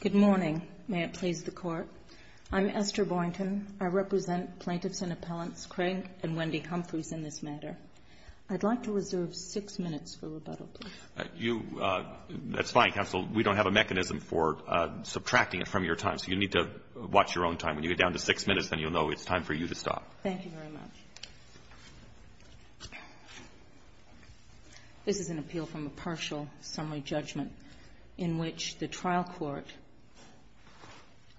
Good morning. May it please the Court. I'm Esther Boynton. I represent Plankinson Appellants Craig and Wendy Humphries in this matter. I'd like to reserve six minutes for rebuttal. That's fine, Counsel. We don't have a mechanism for subtracting it from your time, so you need to watch your own time. When you get down to six minutes, then you'll know it's time for you to stop. Thank you very much. This is an appeal from a partial summary judgment in which the trial court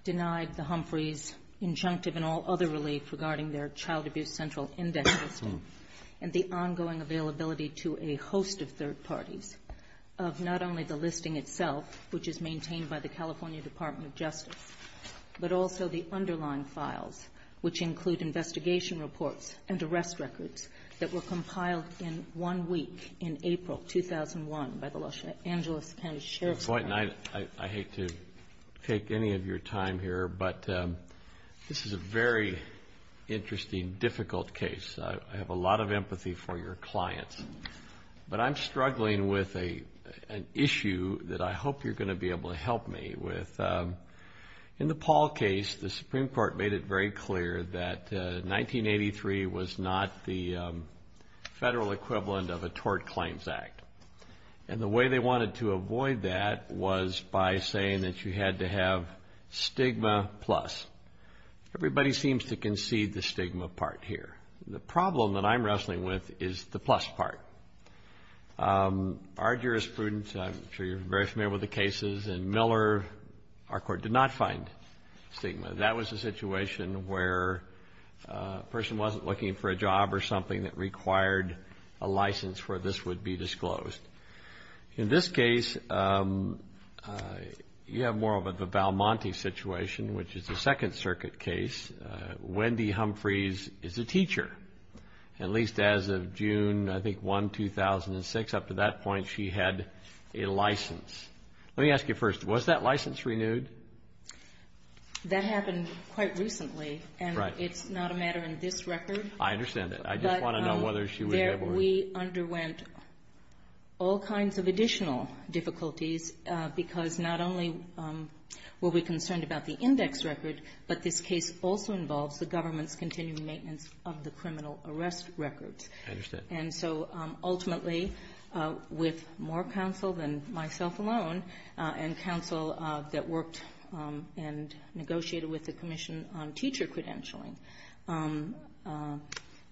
denied the Humphries' injunctive and all other relief regarding their child abuse central investigation and the ongoing availability to a host of third parties of not only the listing itself, which is maintained by the California Department of Justice, but also the underlying files, which include investigation reports and arrest records that were compiled in one week in April 2001 by the Los Angeles County Sheriff's Department. I hate to take any of your time here, but this is a very interesting, difficult case. I have a lot of empathy for your client, but I'm struggling with an issue that I hope you're going to be able to help me with. In the Paul case, the Supreme Court made it very clear that 1983 was not the federal equivalent of a tort claims act, and the way they wanted to avoid that was by saying that you had to have stigma plus. Everybody seems to concede the stigma part here. The problem that I'm wrestling with is the plus part. Our jurisprudence, I'm sure you're very familiar with the cases in Miller, our court did not find stigma. That was a situation where a person wasn't looking for a job or something that required a license for this would be disclosed. In this case, you have more of a Balmonte situation, which is the Second Circuit case. Wendy Humphreys is the teacher. At least as of June 1, 2006, up to that point, she had a license. Let me ask you first, was that license renewed? That happened quite recently, and it's not a matter in this record. I understand that. I just want to know whether she was able to- We underwent all kinds of additional difficulties because not only were we concerned about the index record, but this case also involved the government's continued maintenance of the criminal arrest record. I understand. Ultimately, with more counsel than myself alone, and counsel that worked and negotiated with the commission on teacher credentialing,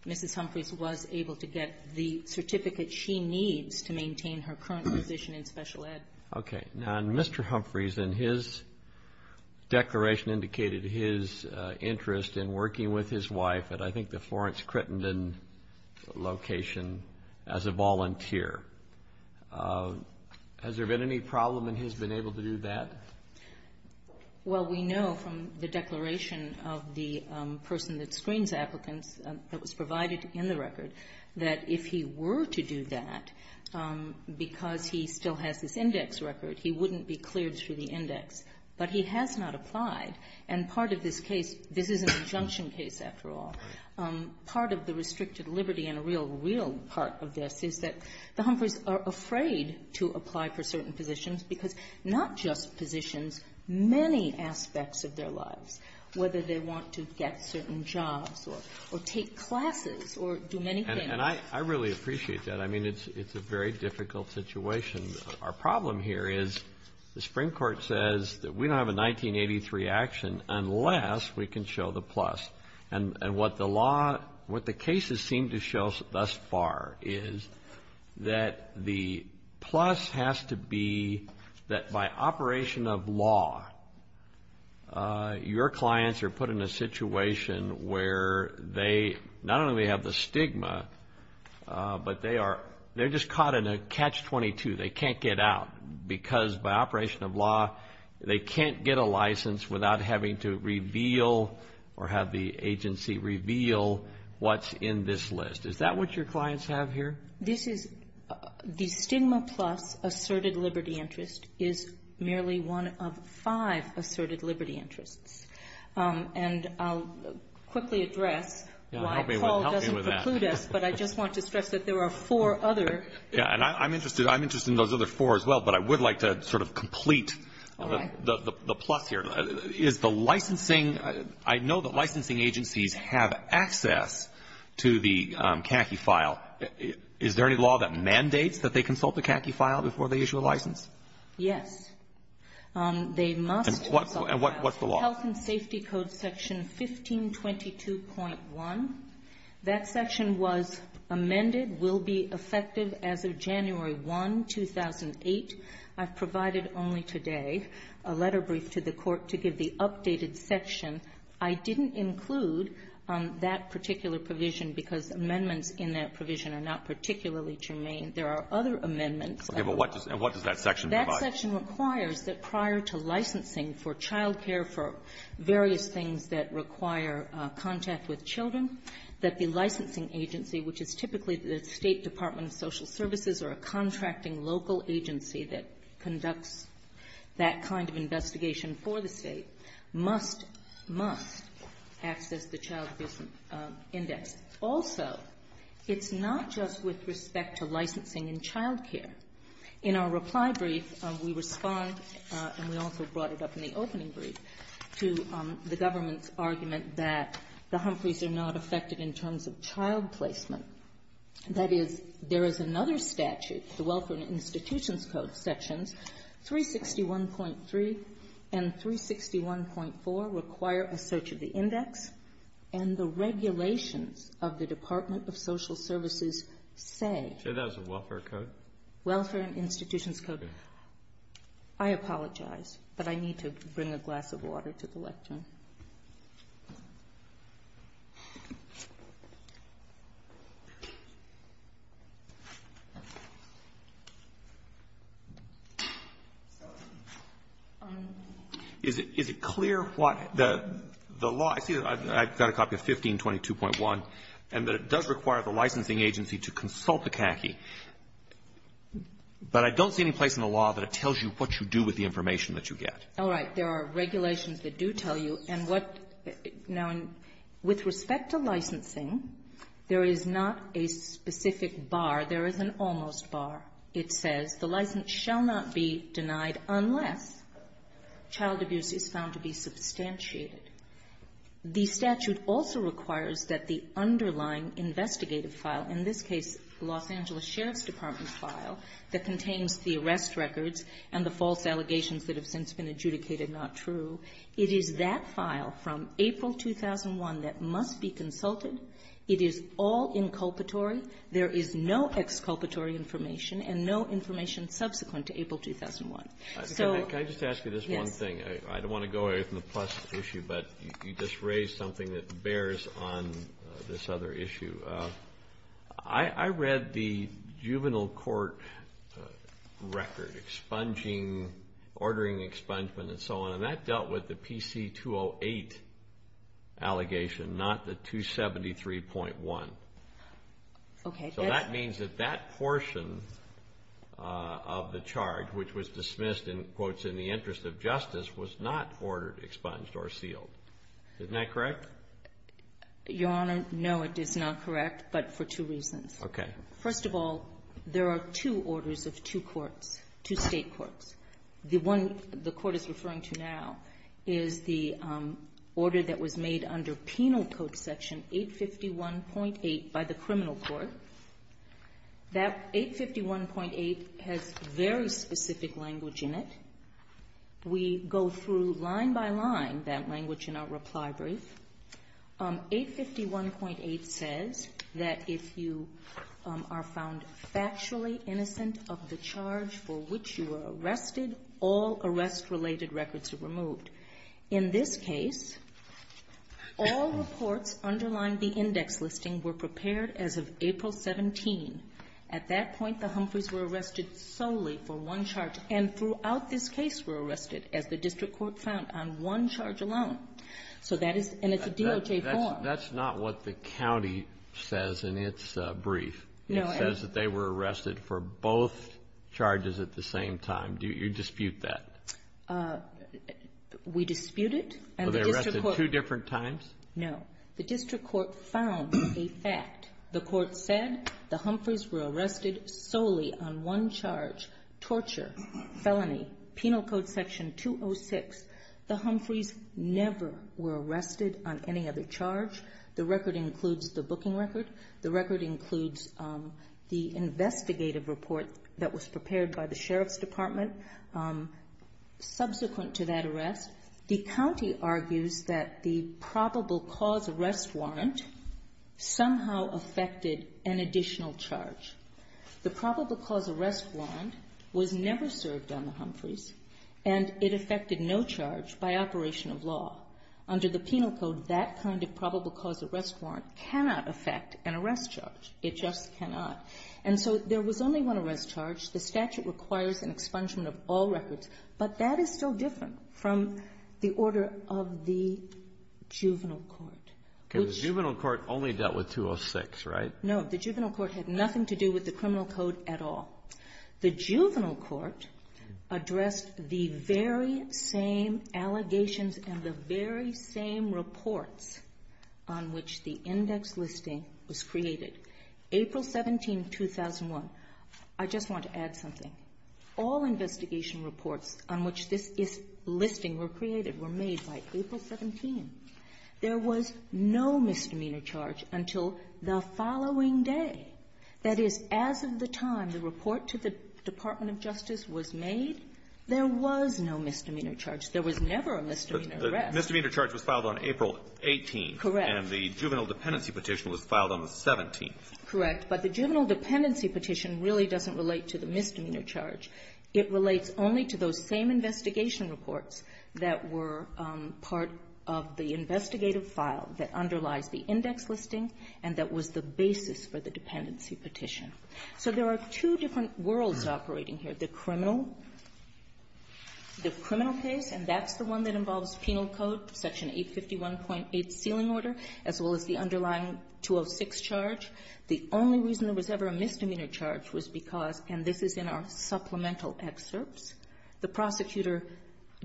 Mrs. Humphreys was able to get the certificate she needs to maintain her current position in special ed. Okay. Now, Mr. Humphreys, in his declaration, indicated his interest in working with his wife at I think the Florence Crittenden location as a volunteer. Has there been any problem in his being able to do that? Well, we know from the declaration of the person that screens applicants that was provided in the record that if he were to do that, because he still has this index record, he wouldn't be cleared through the index. But he has not applied. And part of this case, this is an injunction case after all, part of the restricted liberty and real, real part of this is that the Humphreys are afraid to apply for certain positions because not just positions, many aspects of their lives, whether they want to get certain jobs or take classes or do many things- We don't have a 1983 action unless we can show the plus. And what the cases seem to show thus far is that the plus has to be that by operation of law, your clients are put in a situation where they not only have the stigma, but they're just caught in a catch-22. They can't get out because by operation of law, they can't get a license without having to reveal or have the agency reveal what's in this list. Is that what your clients have here? This is the stigma plus asserted liberty interest is merely one of five asserted liberty interests. And I'll quickly address why Paul doesn't include it, but I just want to stress that there are four other- Is there any law that mandates that they consult the CACI file before they issue a license? Yes. They must- And what's the law? Health and Safety Code section 1522.1. That section was amended, will be effective as of January 1, 2008. I've provided only today a letter brief to the court to give the updated section. I didn't include that particular provision because amendments in that provision are not particularly germane. There are other amendments- Okay, but what does that section provide? That section requires that prior to licensing for child care for various things that require contact with children, that the licensing agency, which is typically the State Department of Social Services or a contracting local agency that conducts that kind of investigation for the state, must access the child abuse index. Also, it's not just with respect to licensing in child care. In our reply brief, we respond, and we also brought it up in the opening brief, to the government's argument that the Humphreys are not affected in terms of child placement. That is, there is another statute, the Welfare and Institutions Code section 361.3 and 361.4 require a search of the index, and the regulations of the Department of Social Services say- Is that a welfare code? Welfare and Institutions Code. I apologize, but I need to bring a glass of water to the left. Is it clear what the law- I've got a copy of 1522.1, and it does require the licensing agency to consult the CACI, but I don't see any place in the law that it tells you what you do with the information that you get. All right, there are regulations that do tell you, and with respect to licensing, there is not a specific bar. There is an almost bar. It says, the license shall not be denied unless child abuse is found to be substantiated. The statute also requires that the underlying investigative file, in this case, the Los Angeles Sheriff's Department file that contains the arrest records and the false allegations that have since been adjudicated not true, it is that file from April 2001 that must be consulted. It is all inculpatory. There is no exculpatory information and no information subsequent to April 2001. Can I just ask you this one thing? I don't want to go away from the plus issue, but you just raised something that bears on this other issue. I read the juvenile court record, ordering expungement and so on, and that dealt with the PC-208 allegation, not the 273.1. So that means that that portion of the charge, which was dismissed in the interest of justice, was not ordered, expunged, or sealed. Isn't that correct? Your Honor, no, it is not correct, but for two reasons. First of all, there are two orders of two courts, two state courts. The one the court is referring to now is the order that was made under Penal Code Section 851.8 by the criminal court. That 851.8 has very specific language in it. We go through line by line that language in our reply brief. 851.8 says that if you are found factually innocent of the charge for which you were arrested, all arrest-related records are removed. In this case, all reports underlying the index listing were prepared as of April 17. At that point, the Humphreys were arrested solely for one charge, and throughout this case were arrested, as the district court found, on one charge alone. That's not what the county says in its brief. It says that they were arrested for both charges at the same time. Do you dispute that? We dispute it. Were they arrested two different times? No. The district court found a fact. The court said the Humphreys were arrested solely on one charge, torture, felony, Penal Code Section 206. The Humphreys never were arrested on any other charge. The record includes the booking record. The record includes the investigative report that was prepared by the Sheriff's Department. Subsequent to that arrest, the county argues that the probable cause arrest warrant somehow affected an additional charge. The probable cause arrest warrant was never served on the Humphreys, and it affected no charge by operation of law. Under the Penal Code, that kind of probable cause arrest warrant cannot affect an arrest charge. It just cannot. And so there was only one arrest charge. The statute requires an expungement of all records, but that is still different from the order of the juvenile court. The juvenile court only dealt with 206, right? No, the juvenile court had nothing to do with the criminal code at all. The juvenile court addressed the very same allegations and the very same reports on which the index listing was created. April 17, 2001. I just want to add something. All investigation reports on which this listing were created were made by April 17. There was no misdemeanor charge until the following day. That is, as of the time the report to the Department of Justice was made, there was no misdemeanor charge. There was never a misdemeanor arrest. The misdemeanor charge was filed on April 18, and the juvenile dependency petition was filed on the 17th. Correct, but the juvenile dependency petition really doesn't relate to the misdemeanor charge. It relates only to those same investigation reports that were part of the investigative file that underlies the index listing and that was the basis for the dependency petition. There are two different worlds operating here. The criminal case, and that's the one that involves penal code, Section 851.8 ceiling order, as well as the underlying 206 charge. The only reason there was ever a misdemeanor charge was because, and this is in our supplemental excerpts, the prosecutor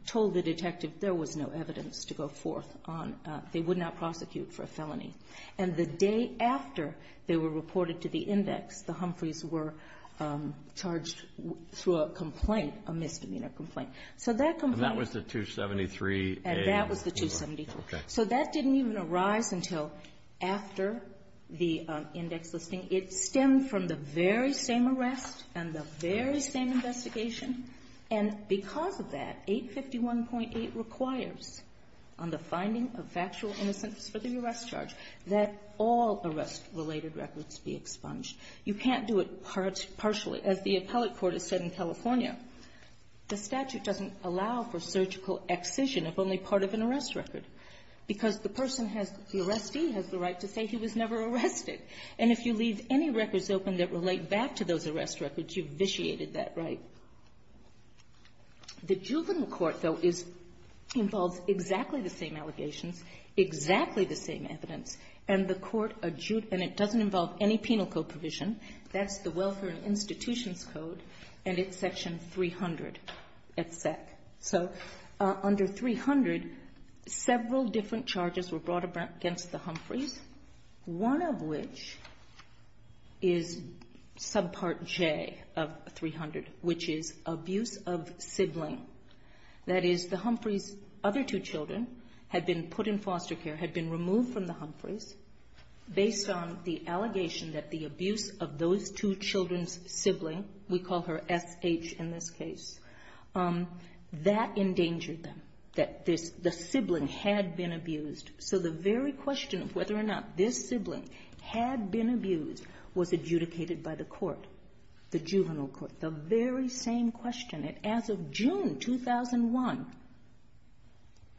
told the detective there was no evidence to go forth on, they would not prosecute for a felony. And the day after they were reported to the index, the Humphreys were charged through a complaint, a misdemeanor complaint. And that was the 273A? So that didn't even arise until after the index listing. It stemmed from the very same arrest and the very same investigation. And because of that, 851.8 requires, on the finding of factual innocence for the arrest charge, that all arrest-related records be expunged. You can't do it partially, as the appellate court has said in California. The statute doesn't allow for surgical excision if only part of an arrest record, because the arrestee has the right to say he was never arrested. And if you leave any records open that relate back to those arrest records, you've vitiated that right. The juvenile court, though, involves exactly the same allegations, exactly the same evidence, and it doesn't involve any penal code provision. That's the Welfare and Institutions Code, and it's Section 300. So under 300, several different charges were brought against the Humphreys, one of which is subpart J of 300, which is abuse of sibling. That is, the Humphreys' other two children had been put in foster care, had been removed from the Humphreys, based on the allegation that the abuse of those two children's sibling, we call her S.H. in this case, that endangered them, that the sibling had been abused. So the very question of whether or not this sibling had been abused was adjudicated by the court, the juvenile court. The very same question. As of June 2001,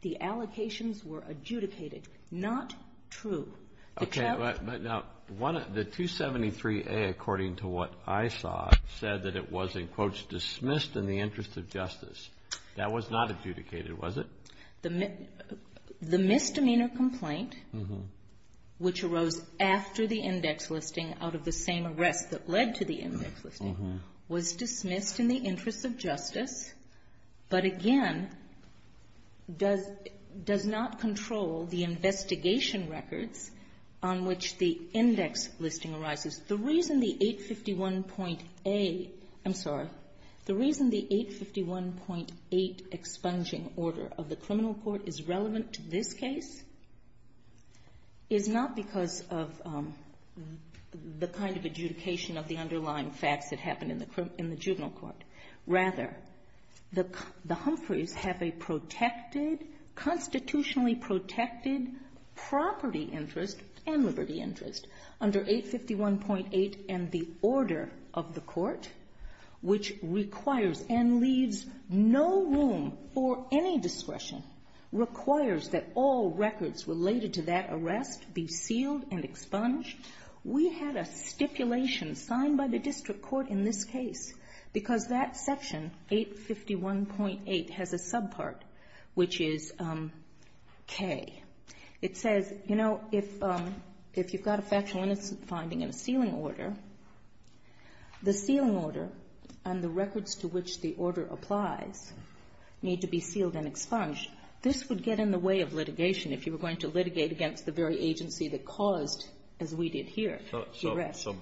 the allocations were adjudicated. Not true. Okay, but now, the 273A, according to what I saw, said that it was, in quotes, dismissed in the interest of justice. That was not adjudicated, was it? The misdemeanor complaint, which arose after the index listing, out of the same arrest that led to the index listing, was dismissed in the interest of justice, but again, does not control the investigation records on which the index listing arises. The reason the 851.8 expunging order of the criminal court is relevant to this case is not because of the kind of adjudication of the underlying facts that happened in the juvenile court. Rather, the Humphreys have a protected, constitutionally protected, property interest and liberty interest under 851.8 and the order of the court, which requires and leaves no room for any discretion, requires that all records related to that arrest be sealed and expunged. We had a stipulation signed by the district court in this case because that section, 851.8, has a subpart, which is K. It says, you know, if you've got a factual innocence finding and a sealing order, the sealing order and the records to which the order applies need to be sealed and expunged. This would get in the way of litigation if you were going to litigate against the very agency that caused, as we did here, the arrest. There is an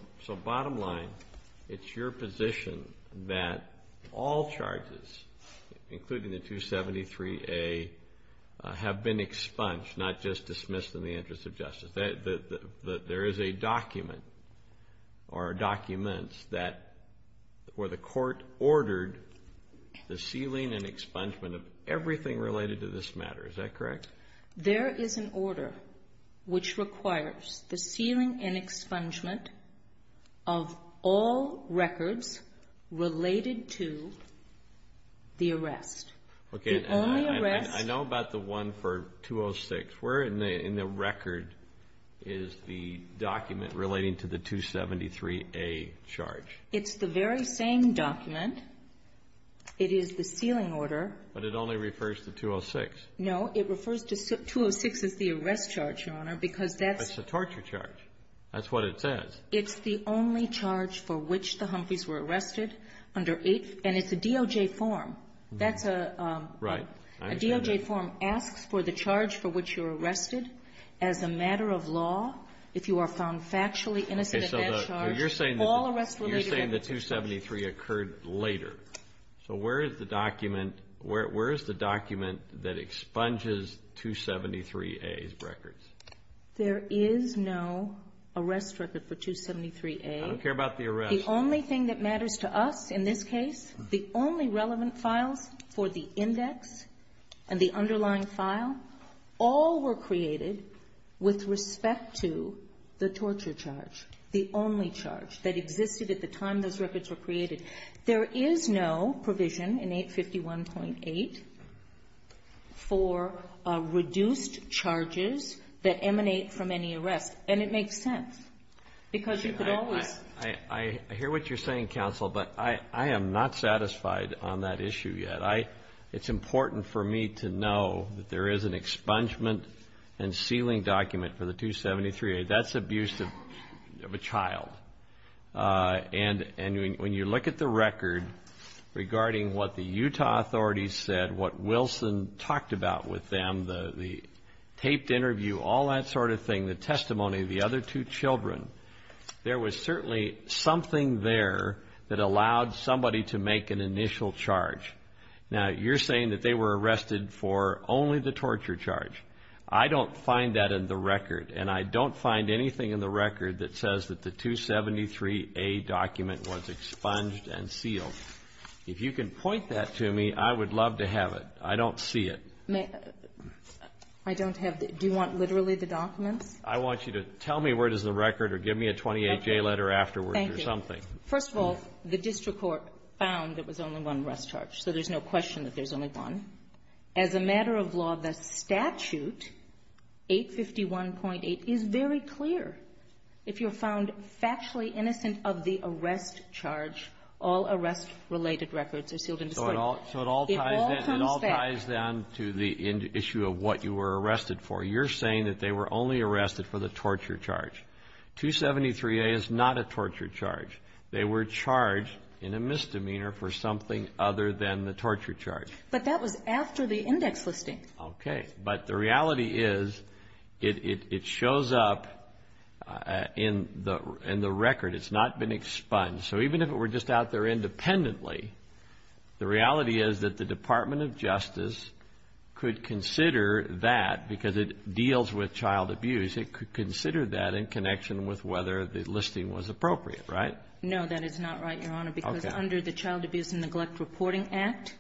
order which requires the sealing and expungement of all records related to the arrest. I know about the one for 206. Where in the record is the document relating to the 273A charge? It's the very same document. It is the sealing order. But it only refers to 206. No, it refers to 206 as the arrest charge, Your Honor, because that's... It's a torture charge. That's what it says. It's the only charge for which the Humphreys were arrested under 851.8 and it's a DOJ form. That's a... Right. A DOJ form asks for the charge for which you're arrested as a matter of law if you are found factually innocent of that charge. You're saying the 273 occurred later. So where is the document that expunges 273A's records? There is no arrest record for 273A. I don't care about the arrest. The only thing that matters to us in this case, the only relevant file for the index and the underlying file, all were created with respect to the torture charge, the only charge that existed at the time those records were created. There is no provision in 851.8 for reduced charges that emanate from any arrest. And it makes sense because you could always... I hear what you're saying, counsel, but I am not satisfied on that issue yet. It's important for me to know that there is an expungement and sealing document for the 273A. That's abuse of a child. And when you look at the record regarding what the Utah authorities said, what Wilson talked about with them, the taped interview, all that sort of thing, the testimony of the other two children, there was certainly something there that allowed somebody to make an initial charge. Now, you're saying that they were arrested for only the torture charge. I don't find that in the record. And I don't find anything in the record that says that the 273A document was expunged and sealed. If you can point that to me, I would love to have it. I don't see it. I don't have it. Do you want literally the document? I want you to tell me where it is in the record or give me a 28-J letter afterwards or something. Thank you. First of all, the district court found there was only one arrest charge, so there's no question that there's only one. As a matter of law, the statute, 851.8, is very clear. If you're found factually innocent of the arrest charge, all arrest-related records are sealed in the court. So it all ties down to the issue of what you were arrested for. You're saying that they were only arrested for the torture charge. 273A is not a torture charge. They were charged in a misdemeanor for something other than the torture charge. But that was after the index listing. Okay. But the reality is it shows up in the record. It's not been expunged. So even if it were just out there independently, the reality is that the Department of Justice could consider that, because it deals with child abuse, it could consider that in connection with whether the listing was appropriate, right? No, that is not right, Your Honor, because under the Child Abuse and Neglect Reporting Act,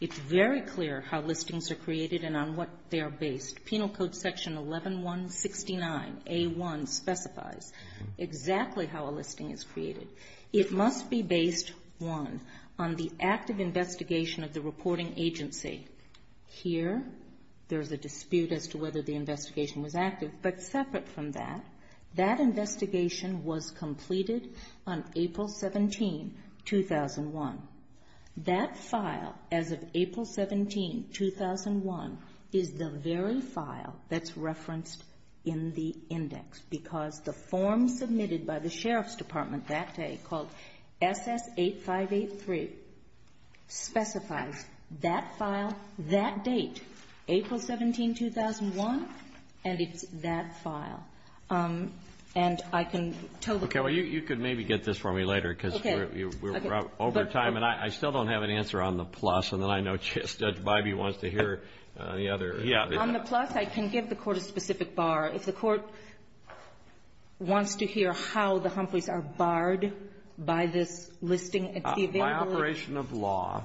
it's very clear how listings are created and on what they're based. Penal Code Section 11169A1 specifies exactly how a listing is created. It must be based, one, on the active investigation of the reporting agency. Here, there's a dispute as to whether the investigation was active. But separate from that, that investigation was completed on April 17, 2001. That file, as of April 17, 2001, is the very file that's referenced in the index, because the form submitted by the Sheriff's Department that day, called SS-8583, specifies that file, that date, April 17, 2001, and it's that file. And I can totally ---- Okay, well, you can maybe get this for me later, because we're over time, and I still don't have an answer on the plus, and then I know Judge Biby wants to hear the other. On the plus, I can give the Court a specific bar. If the Court wants to hear how the Humphreys are barred by this listing, if he's able to ---- By operation of law,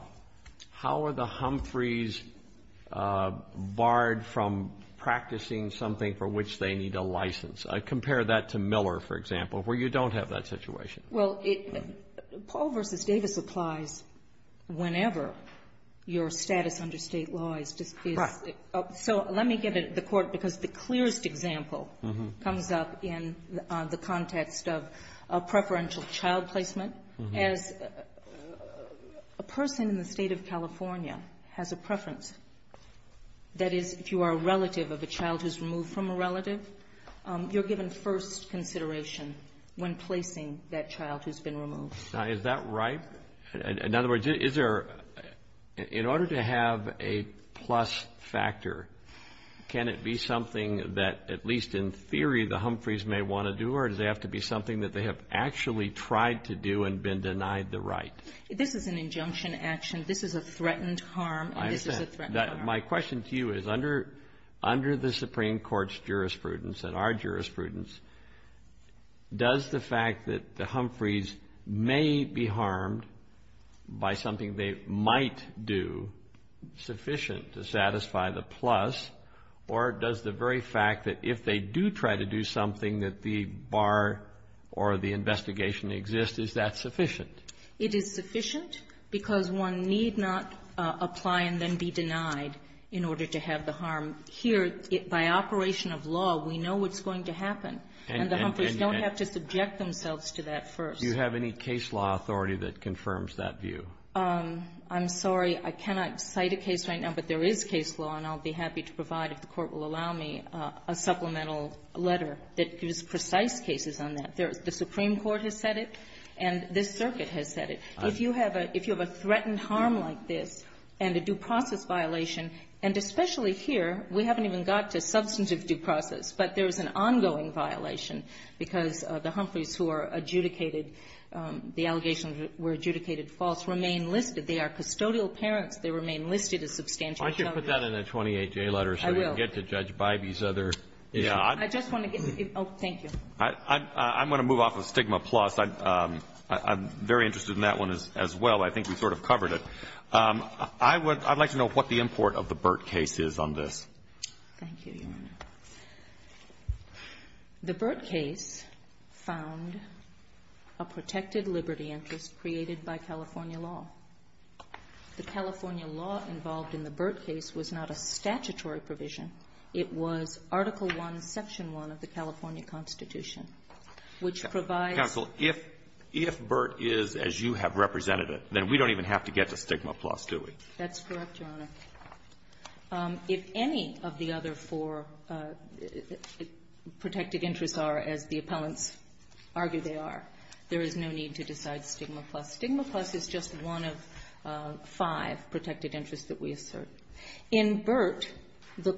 how are the Humphreys barred from practicing something for which they need a license? Compare that to Miller, for example, where you don't have that situation. Well, Paul v. Davis applies whenever your status under State law is to ---- Right. So let me give it to the Court, because the clearest example comes up in the context of preferential child placement. As a person in the State of California has a preference, that is, if you are a relative of a child who's removed from a relative, you're given first consideration when placing that child who's been removed. Now, is that right? In other words, in order to have a plus factor, can it be something that, at least in theory, the Humphreys may want to do, or does it have to be something that they have actually tried to do and been denied the right? This is an injunction action. This is a threatened harm. I understand. My question to you is, under the Supreme Court's jurisprudence and our jurisprudence, does the fact that the Humphreys may be harmed by something they might do sufficient to satisfy the plus, or does the very fact that if they do try to do something, that the bar or the investigation exists, is that sufficient? It is sufficient because one need not apply and then be denied in order to have the harm. Here, by operation of law, we know what's going to happen, and the Humphreys don't have to subject themselves to that first. Do you have any case law authority that confirms that view? I'm sorry. I cannot cite a case right now, but there is case law, and I'll be happy to provide, if the Court will allow me, a supplemental letter that gives precise cases on that. The Supreme Court has said it, and this circuit has said it. If you have a threatened harm like this and a due process violation, and especially here, we haven't even got to substantive due process, but there is an ongoing violation because the Humphreys who are adjudicated, the allegations were adjudicated false, remain listed. They are custodial parents. They remain listed as substantial children. Why don't you put that in a 28-J letter so we can get to Judge Bybee's other. I just want to give, oh, thank you. I'm going to move off of stigma plus. I'm very interested in that one as well. I think we sort of covered it. I'd like to know what the import of the Burt case is on this. Thank you. The Burt case found a protected liberty interest created by California law. The California law involved in the Burt case was not a statutory provision. It was Article I, Section 1 of the California Constitution, which provides. Counsel, if Burt is as you have represented it, then we don't even have to get to stigma plus, do we? That's correct, Your Honor. If any of the other four protected interests are, as the appellants argue they are, there is no need to decide stigma plus. Stigma plus is just one of five protected interests that we assert. In Burt, the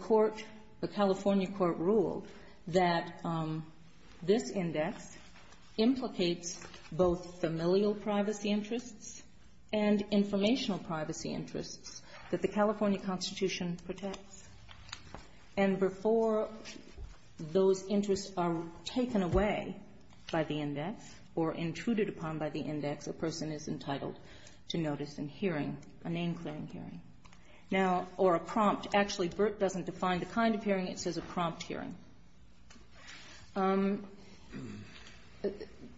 California court ruled that this index implicates both familial privacy interests and informational privacy interests that the California Constitution protects. And before those interests are taken away by the index or intruded upon by the index, a person is entitled to notice and hearing, a name-claim hearing. Now, or a prompt. Actually, Burt doesn't define the kind of hearing. It says a prompt hearing.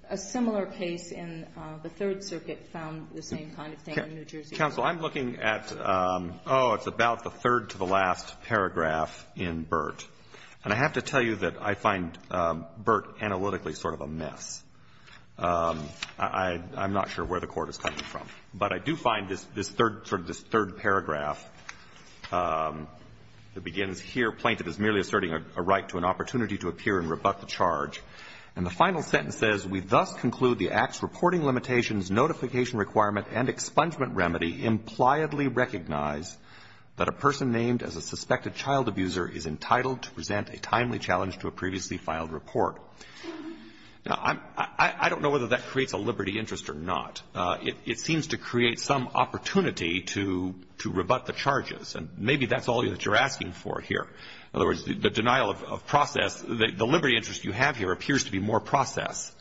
A similar case in the Third Circuit found the same kind of thing in New Jersey. Counsel, I'm looking at, oh, it's about the third to the last paragraph in Burt. And I have to tell you that I find Burt analytically sort of a myth. I'm not sure where the court is claiming from. But I do find sort of this third paragraph that begins here, plaintiff is merely asserting a right to an opportunity to appear and rebut the charge. And the final sentence says, we thus conclude the act's reporting limitations, notification requirement, and expungement remedy impliedly recognize that a person named as a suspected child abuser is entitled to present a timely challenge to a previously filed report. Now, I don't know whether that creates a liberty interest or not. It seems to create some opportunity to rebut the charges. And maybe that's all that you're asking for here. In other words, the denial of process, the liberty interest you have here appears to be more process.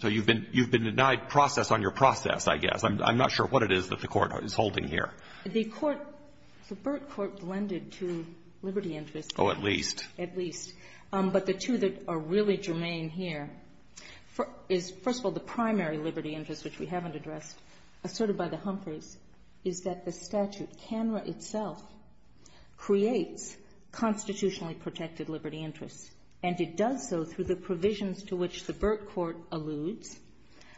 So you've been denied process on your process, I guess. I'm not sure what it is that the court is holding here. The Burt court blended two liberty interests. Oh, at least. At least. But the two that are really germane here is, first of all, the primary liberty interest, which we haven't addressed, asserted by the Humphreys, is that the statute camera itself creates constitutionally protected liberty interests. And it does so through the provisions to which the Burt court alludes.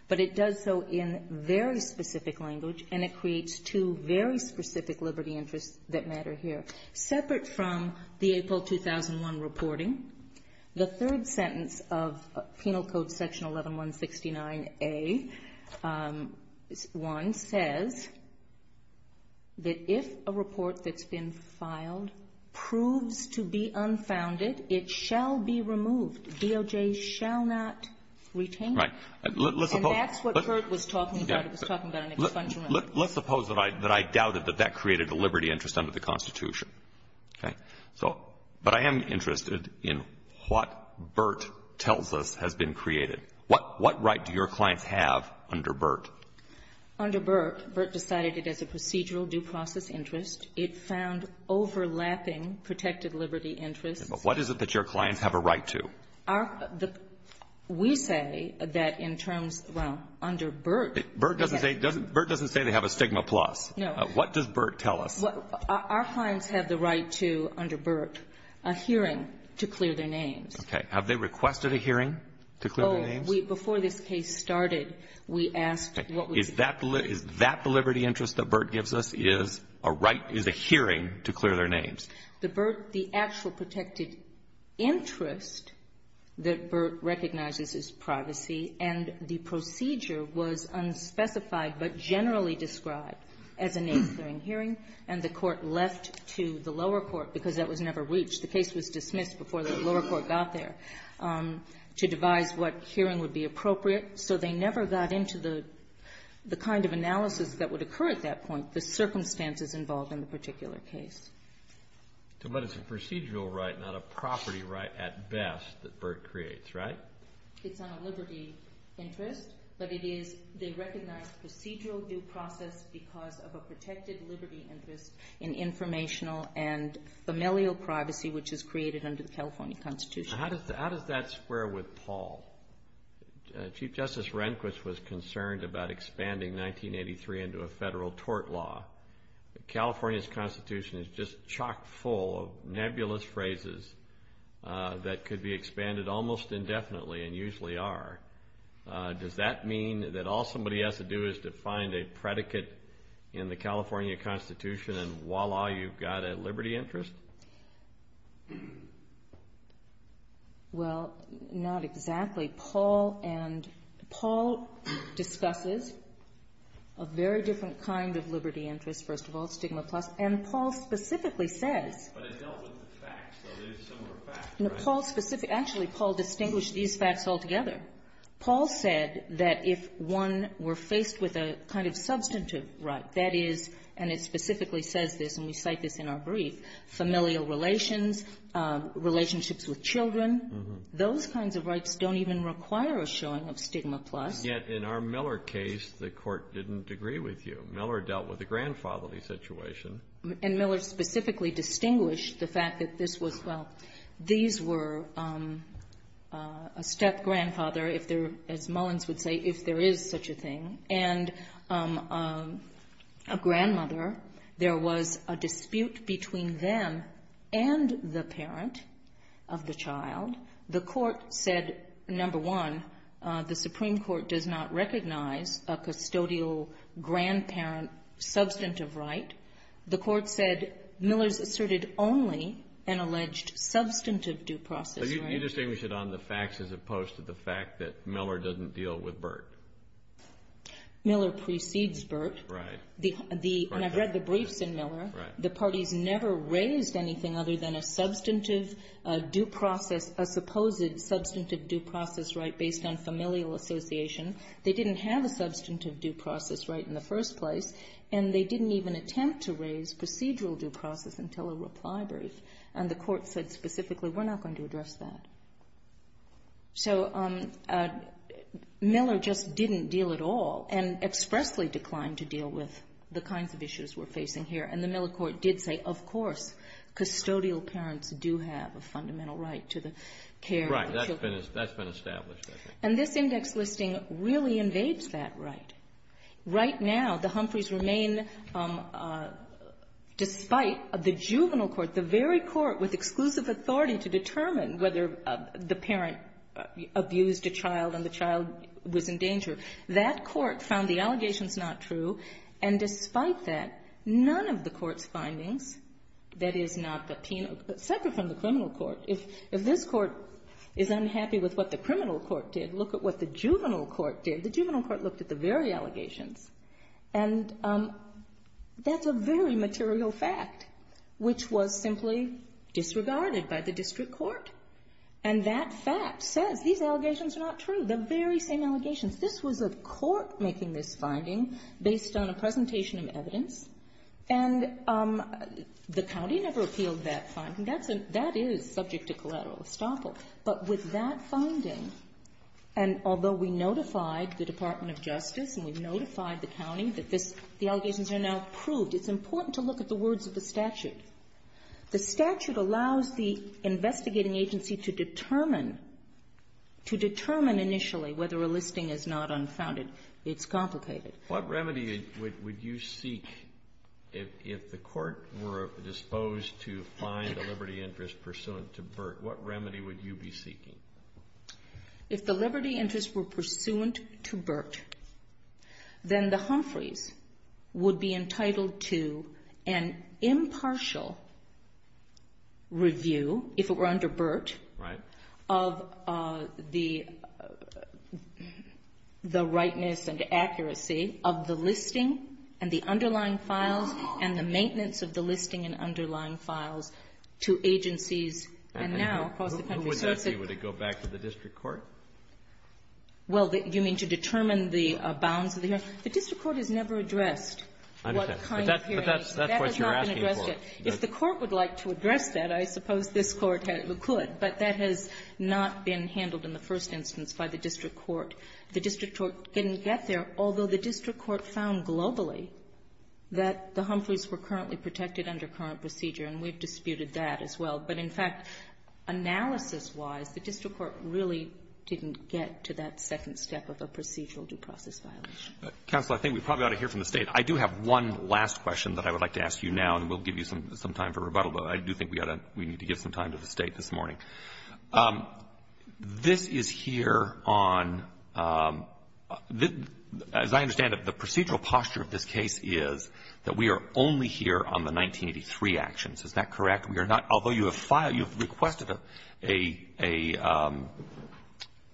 But it does so in very specific language, and it creates two very specific liberty interests that matter here. Separate from the April 2001 reporting, the third sentence of Penal Code Section 11169A-1 says that if a report that's been filed proves to be unfounded, it shall be removed. DOJ shall not retain it. Right. And that's what Burt was talking about. Let's suppose that I doubted that that created a liberty interest under the Constitution. But I am interested in what Burt tells us has been created. What right do your clients have under Burt? Under Burt, Burt decided it as a procedural due process interest. It found overlapping protected liberty interests. But what is it that your clients have a right to? We say that in terms of under Burt. Burt doesn't say they have a stigma plus. No. What does Burt tell us? Our clients have the right to, under Burt, a hearing to clear their names. Okay. Have they requested a hearing to clear their names? Oh, before this case started, we asked. Is that the liberty interest that Burt gives us is a hearing to clear their names? The actual protected interest that Burt recognizes is privacy. And the procedure was unspecified but generally described as a name-clearing hearing. And the court left to the lower court because that was never reached. The case was dismissed before the lower court got there to devise what hearing would be appropriate. So they never got into the kind of analysis that would occur at that point, the circumstances involved in the particular case. But it's a procedural right, not a property right at best that Burt creates, right? It's not a liberty interest, but they recognize procedural due process because of a protected liberty interest in informational and familial privacy, which is created under the California Constitution. How does that square with Paul? Chief Justice Rehnquist was concerned about expanding 1983 into a federal tort law. California's Constitution is just chock full of nebulous phrases that could be expanded almost indefinitely and usually are. Does that mean that all somebody has to do is to find a predicate in the California Constitution and voila, you've got a liberty interest? Well, not exactly. Paul discusses a very different kind of liberty interest, first of all, stigma plus. And Paul specifically said... But it dealt with the facts. Actually, Paul distinguished these facts altogether. Paul said that if one were faced with a kind of substantive right, that is, and it specifically says this, and we cite this in our brief, familial relations, relationships with children, those kinds of rights don't even require a showing of stigma plus. Yet in our Miller case, the court didn't agree with you. Miller dealt with a grandfatherly situation. And Miller specifically distinguished the fact that this was... Well, these were a step-grandfather, as Mullins would say, if there is such a thing, and a grandmother, there was a dispute between them and the parent of the child. The court said, number one, the Supreme Court does not recognize a custodial grandparent substantive right. The court said Miller asserted only an alleged substantive due process right. So you distinguish it on the facts as opposed to the fact that Miller doesn't deal with Burt. Miller precedes Burt. And I've read the briefs in Miller. The parties never raised anything other than a substantive due process, a supposed substantive due process right based on familial association. They didn't have a substantive due process right in the first place, and they didn't even attempt to raise procedural due process until a reply was raised. And the court said specifically, we're not going to address that. So Miller just didn't deal at all and expressly declined to deal with the kinds of issues we're facing here. And the Miller court did say, of course, custodial parents do have a fundamental right to the care of children. Right, that's been established. And this index listing really invades that right. Right now, the Humphreys remain, despite the juvenile court, the very court with exclusive authority to determine whether the parent abused a child and the child was in danger, that court found the allegations not true. And despite that, none of the court's findings, that is not the penal, separate from the criminal court, if this court is unhappy with what the criminal court did, look at what the juvenile court did. The juvenile court looked at the very allegations. And that's a very material fact, which was simply disregarded by the district court. And that fact said, these allegations are not true. The very same allegations. This was a court making this finding based on a presentation of evidence. And the county never appealed that finding. That is subject to collateral estoppel. But with that finding, and although we notified the Department of Justice and we notified the county that the allegations are now proved, it's important to look at the words of the statute. The statute allows the investigating agency to determine initially whether a listing is not unfounded. It's complicated. What remedy would you seek if the court were disposed to find a liberty interest pursuant to Burt? What remedy would you be seeking? If the liberty interest were pursuant to Burt, then the Humphreys would be entitled to an impartial review, if it were under Burt, of the rightness and accuracy of the listing and the underlying files and the maintenance of the listing and underlying files to agencies. Would it go back to the district court? Well, do you mean to determine the bounds? The district court has never addressed what kind of hearing. But that's what you're asking for. If the court would like to address that, I suppose this court could. But that has not been handled in the first instance by the district court. The district court didn't get there, although the district court found globally that the Humphreys were currently protected under current procedure, and we've disputed that as well. But, in fact, analysis-wise, the district court really didn't get to that second step of the procedural due process. Counsel, I think we probably ought to hear from the State. I do have one last question that I would like to ask you now, and we'll give you some time for rebuttal, but I do think we need to give some time to the State this morning. This is here on – as I understand it, the procedural posture of this case is that we are only here on the 1983 actions. Is that correct? Although you have requested an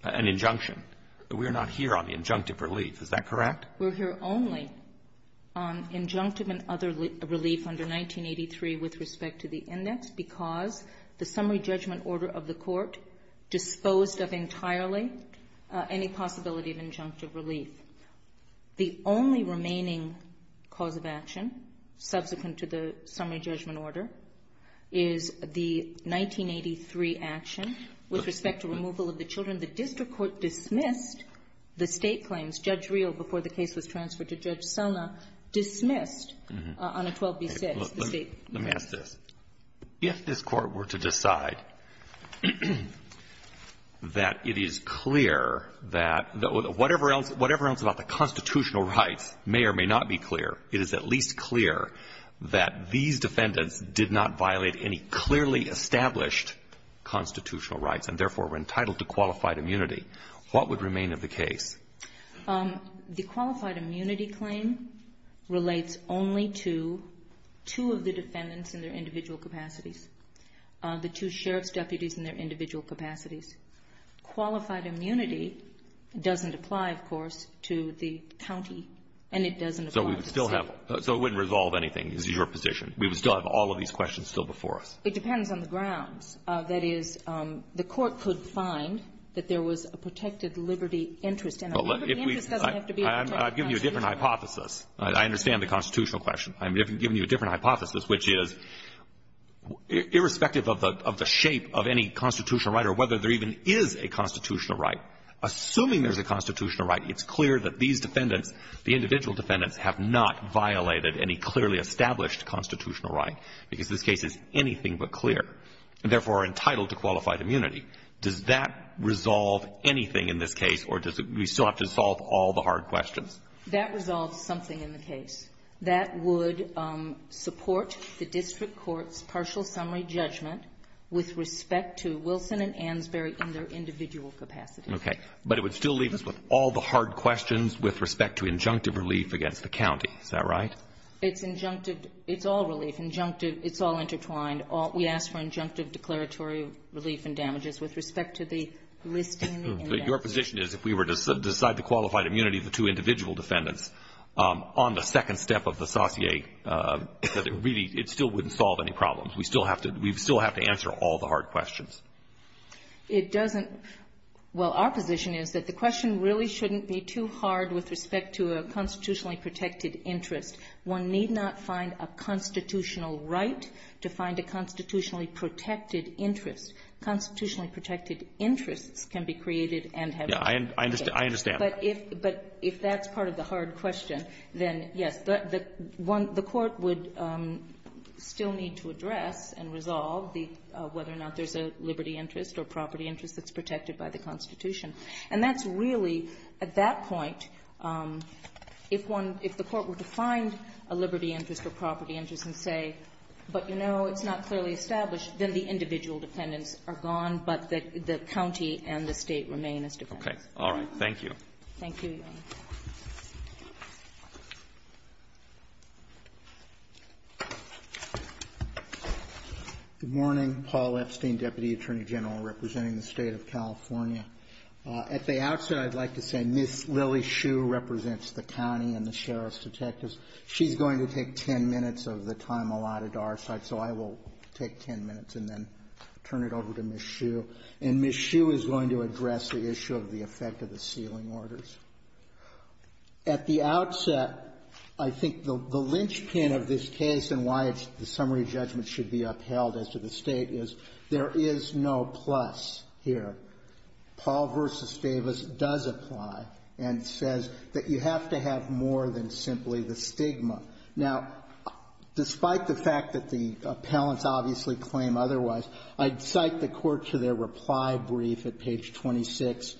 injunction, we are not here on the injunctive relief. Is that correct? We're here only on injunctive and other relief under 1983 with respect to the index because the summary judgment order of the court disposed of entirely any possibility of injunctive relief. The only remaining cause of action, subsequent to the summary judgment order, is the 1983 action with respect to removal of the children. The district court dismissed the State claims. Judge Reel, before the case was transferred to Judge Sumner, dismissed unequal defense. Let me ask this. If this court were to decide that it is clear that whatever else about the constitutional rights may or may not be clear, it is at least clear that these defendants did not violate any clearly established constitutional rights and therefore were entitled to qualified immunity, what would remain of the case? The qualified immunity claim relates only to two of the defendants in their individual capacities, the two sheriff's deputies in their individual capacities. Qualified immunity doesn't apply, of course, to the county, and it doesn't apply to us. So it wouldn't resolve anything, is your position? We would still have all of these questions still before us. It depends on the grounds. That is, the court could find that there was a protected liberty interest. I've given you a different hypothesis. I understand the constitutional question. I'm giving you a different hypothesis, which is, irrespective of the shape of any constitutional right or whether there even is a constitutional right, assuming there's a constitutional right, it's clear that these defendants, the individual defendants, have not violated any clearly established constitutional right. If this case is anything but clear and therefore are entitled to qualified immunity, does that resolve anything in this case, or do we still have to solve all the hard questions? That resolves something in the case. That would support the district court's partial summary judgment with respect to Wilson and Ansberry in their individual capacities. Okay. But it would still leave us with all the hard questions with respect to injunctive relief against the county. Is that right? It's injunctive. It's all relief, injunctive. It's all intertwined. We ask for injunctive declaratory relief and damages with respect to the listing and damages. So your position is if we were to decide the qualified immunity of the two individual defendants, on the second step of the sauté, it still wouldn't solve any problems. We'd still have to answer all the hard questions. It doesn't. Well, our position is that the question really shouldn't be too hard with respect to a constitutionally protected interest. One need not find a constitutional right to find a constitutionally protected interest. A constitutionally protected interest can be created and held. I understand. But if that's part of the hard question, then yes. The court would still need to address and resolve whether or not there's a liberty interest or property interest that's protected by the Constitution. And that's really, at that point, if the court were to find a liberty interest or property interest and say, but, you know, it's not clearly established, then the individual defendants are gone, but the county and the state remain as defendants. Okay. All right. Thank you. Thank you. Thank you. Good morning. Paul Epstein, Deputy Attorney General representing the state of California. At the outset, I'd like to say Ms. Lily Hsu represents the county and the sheriff's detectives. She's going to take 10 minutes of the time allotted to our side, so I will take 10 minutes and then turn it over to Ms. Hsu. Thank you. And Ms. Hsu is going to address the issue of the effect of the sealing orders. At the outset, I think the linchpin of this case and why the summary judgment should be upheld as to the state is there is no plus here. Paul v. Davis does apply and says that you have to have more than simply the stigma. Now, despite the fact that the appellants obviously claim otherwise, I'd cite the court to their reply brief at page 26,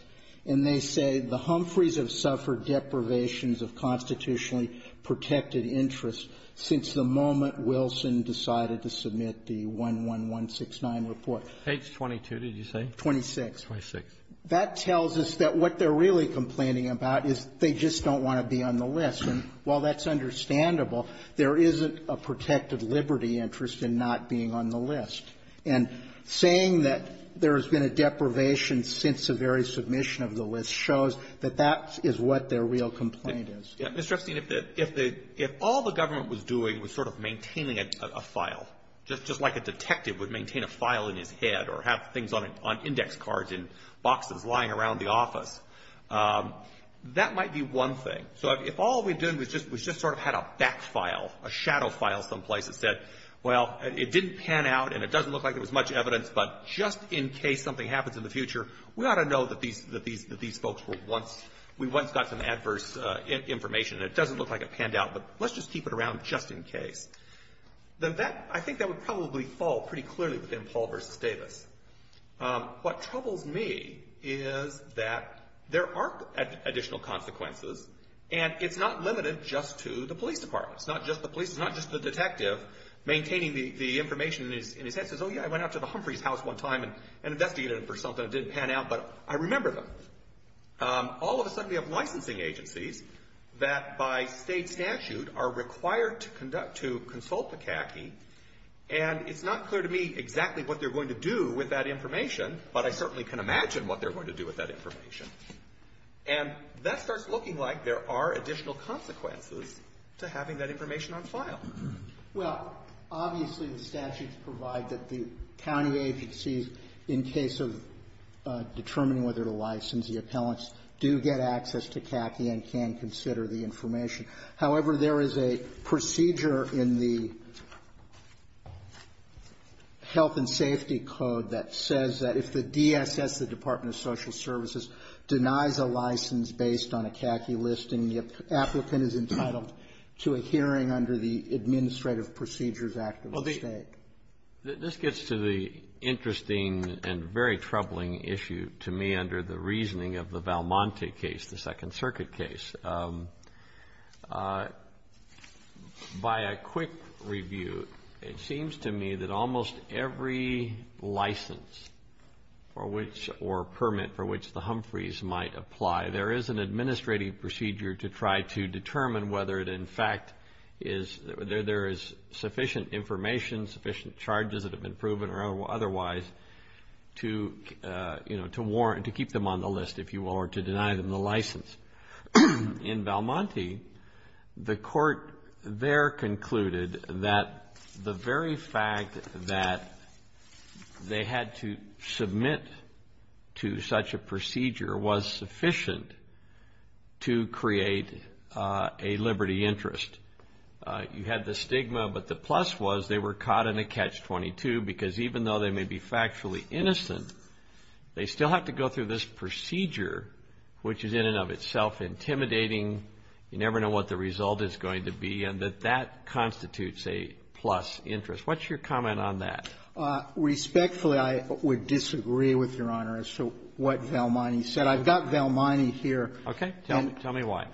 and they say, the Humphreys have suffered deprivations of constitutionally protected interests since the moment Wilson decided to submit the 11169 report. Page 22, did you say? 26. 26. That tells us that what they're really complaining about is they just don't want to be on the list, and while that's understandable, there isn't a protected liberty interest in not being on the list. And saying that there has been a deprivation since the very submission of the list shows that that is what their real complaint is. Ms. Rustin, if all the government was doing was sort of maintaining a file, just like a detective would maintain a file in his head or have things on index cards in boxes lying around the office, that might be one thing. So if all we did was just sort of had a back file, a shadow file someplace that said, well, it didn't pan out and it doesn't look like there was much evidence, but just in case something happens in the future, we ought to know that these folks were once, we once got some adverse information and it doesn't look like it panned out, but let's just keep it around just in case. I think that would probably fall pretty clearly within Paul versus Davis. What troubles me is that there are additional consequences, and it's not limited just to the police department. It's not just the police. It's not just the detective maintaining the information in his head that says, oh, yeah, I went out to the Humphreys' house one time and investigated it for something that didn't pan out, but I remember them. All of a sudden we have licensing agencies that by state statute are required to conduct, to consult the CACI, and it's not clear to me exactly what they're going to do with that information, but I certainly can imagine what they're going to do with that information. And that starts looking like there are additional consequences to having that information on file. Well, obviously the statutes provide that the county agencies, in case of determining whether to license the appellants, do get access to CACI and can consider the information. However, there is a procedure in the Health and Safety Code that says that if the DSS, the Department of Social Services, denies a license based on a CACI listing, the applicant is entitled to a hearing under the Administrative Procedures Act of the state. This gets to the interesting and very troubling issue to me under the reasoning of the Valmonte case, the Second Circuit case. By a quick review, it seems to me that almost every license for which, or permit for which the Humphreys might apply, there is an administrative procedure to try to determine whether it in fact is, there is sufficient information, sufficient charges that have been proven or otherwise, to warrant, to keep them on the list, if you will, or to deny them the license. In Valmonte, the court there concluded that the very fact that they had to submit to such a procedure was sufficient to create a liberty interest. You had the stigma, but the plus was they were caught in a Catch-22 because even though they may be factually innocent, they still have to go through this procedure, which is in and of itself intimidating. You never know what the result is going to be, and that that constitutes a plus interest. What's your comment on that? Respectfully, I would disagree with Your Honor as to what Valmonte said. I've got Valmonte here. Okay. Tell me why.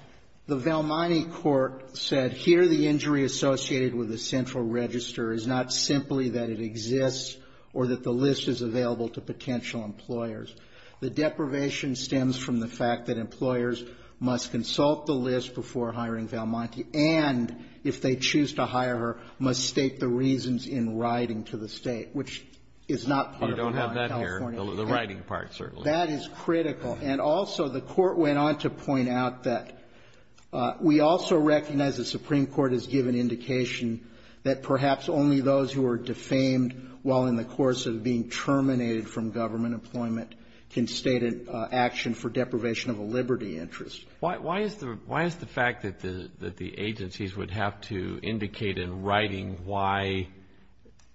The Valmonte court said, that here the injury associated with the central register is not simply that it exists or that the list is available to potential employers. The deprivation stems from the fact that employers must consult the list before hiring Valmonte, and if they choose to hire her, must state the reasons in writing to the state, which is not under the California law. You don't have that here, the writing part, certainly. That is critical. And also, the court went on to point out that we also recognize the Supreme Court has given indication that perhaps only those who are defamed while in the course of being terminated from government employment can state an action for deprivation of a liberty interest. Why is the fact that the agencies would have to indicate in writing why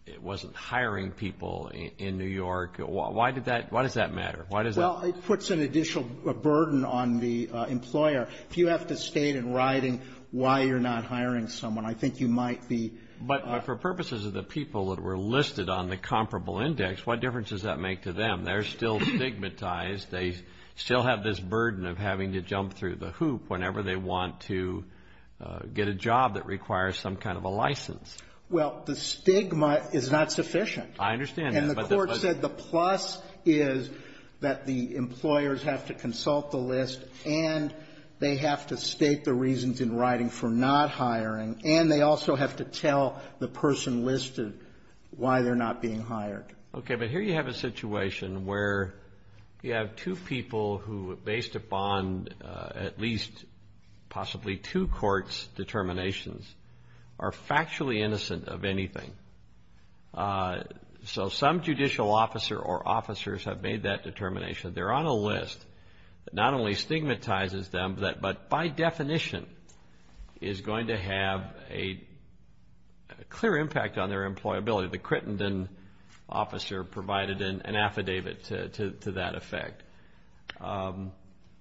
it wasn't hiring people in New York, why does that matter? Well, it puts an additional burden on the employer. If you have to state in writing why you're not hiring someone, I think you might be. But for purposes of the people that were listed on the comparable index, what difference does that make to them? They're still stigmatized. They still have this burden of having to jump through the hoop whenever they want to get a job that requires some kind of a license. Well, the stigma is not sufficient. I understand that. And the court said the plus is that the employers have to consult the list and they have to state the reasons in writing for not hiring, and they also have to tell the person listed why they're not being hired. Okay, but here you have a situation where you have two people who, based upon at least possibly two courts' determinations, are factually innocent of anything. So some judicial officer or officers have made that determination. They're on a list that not only stigmatizes them, but by definition is going to have a clear impact on their employability. The Crittenden officer provided an affidavit to that effect.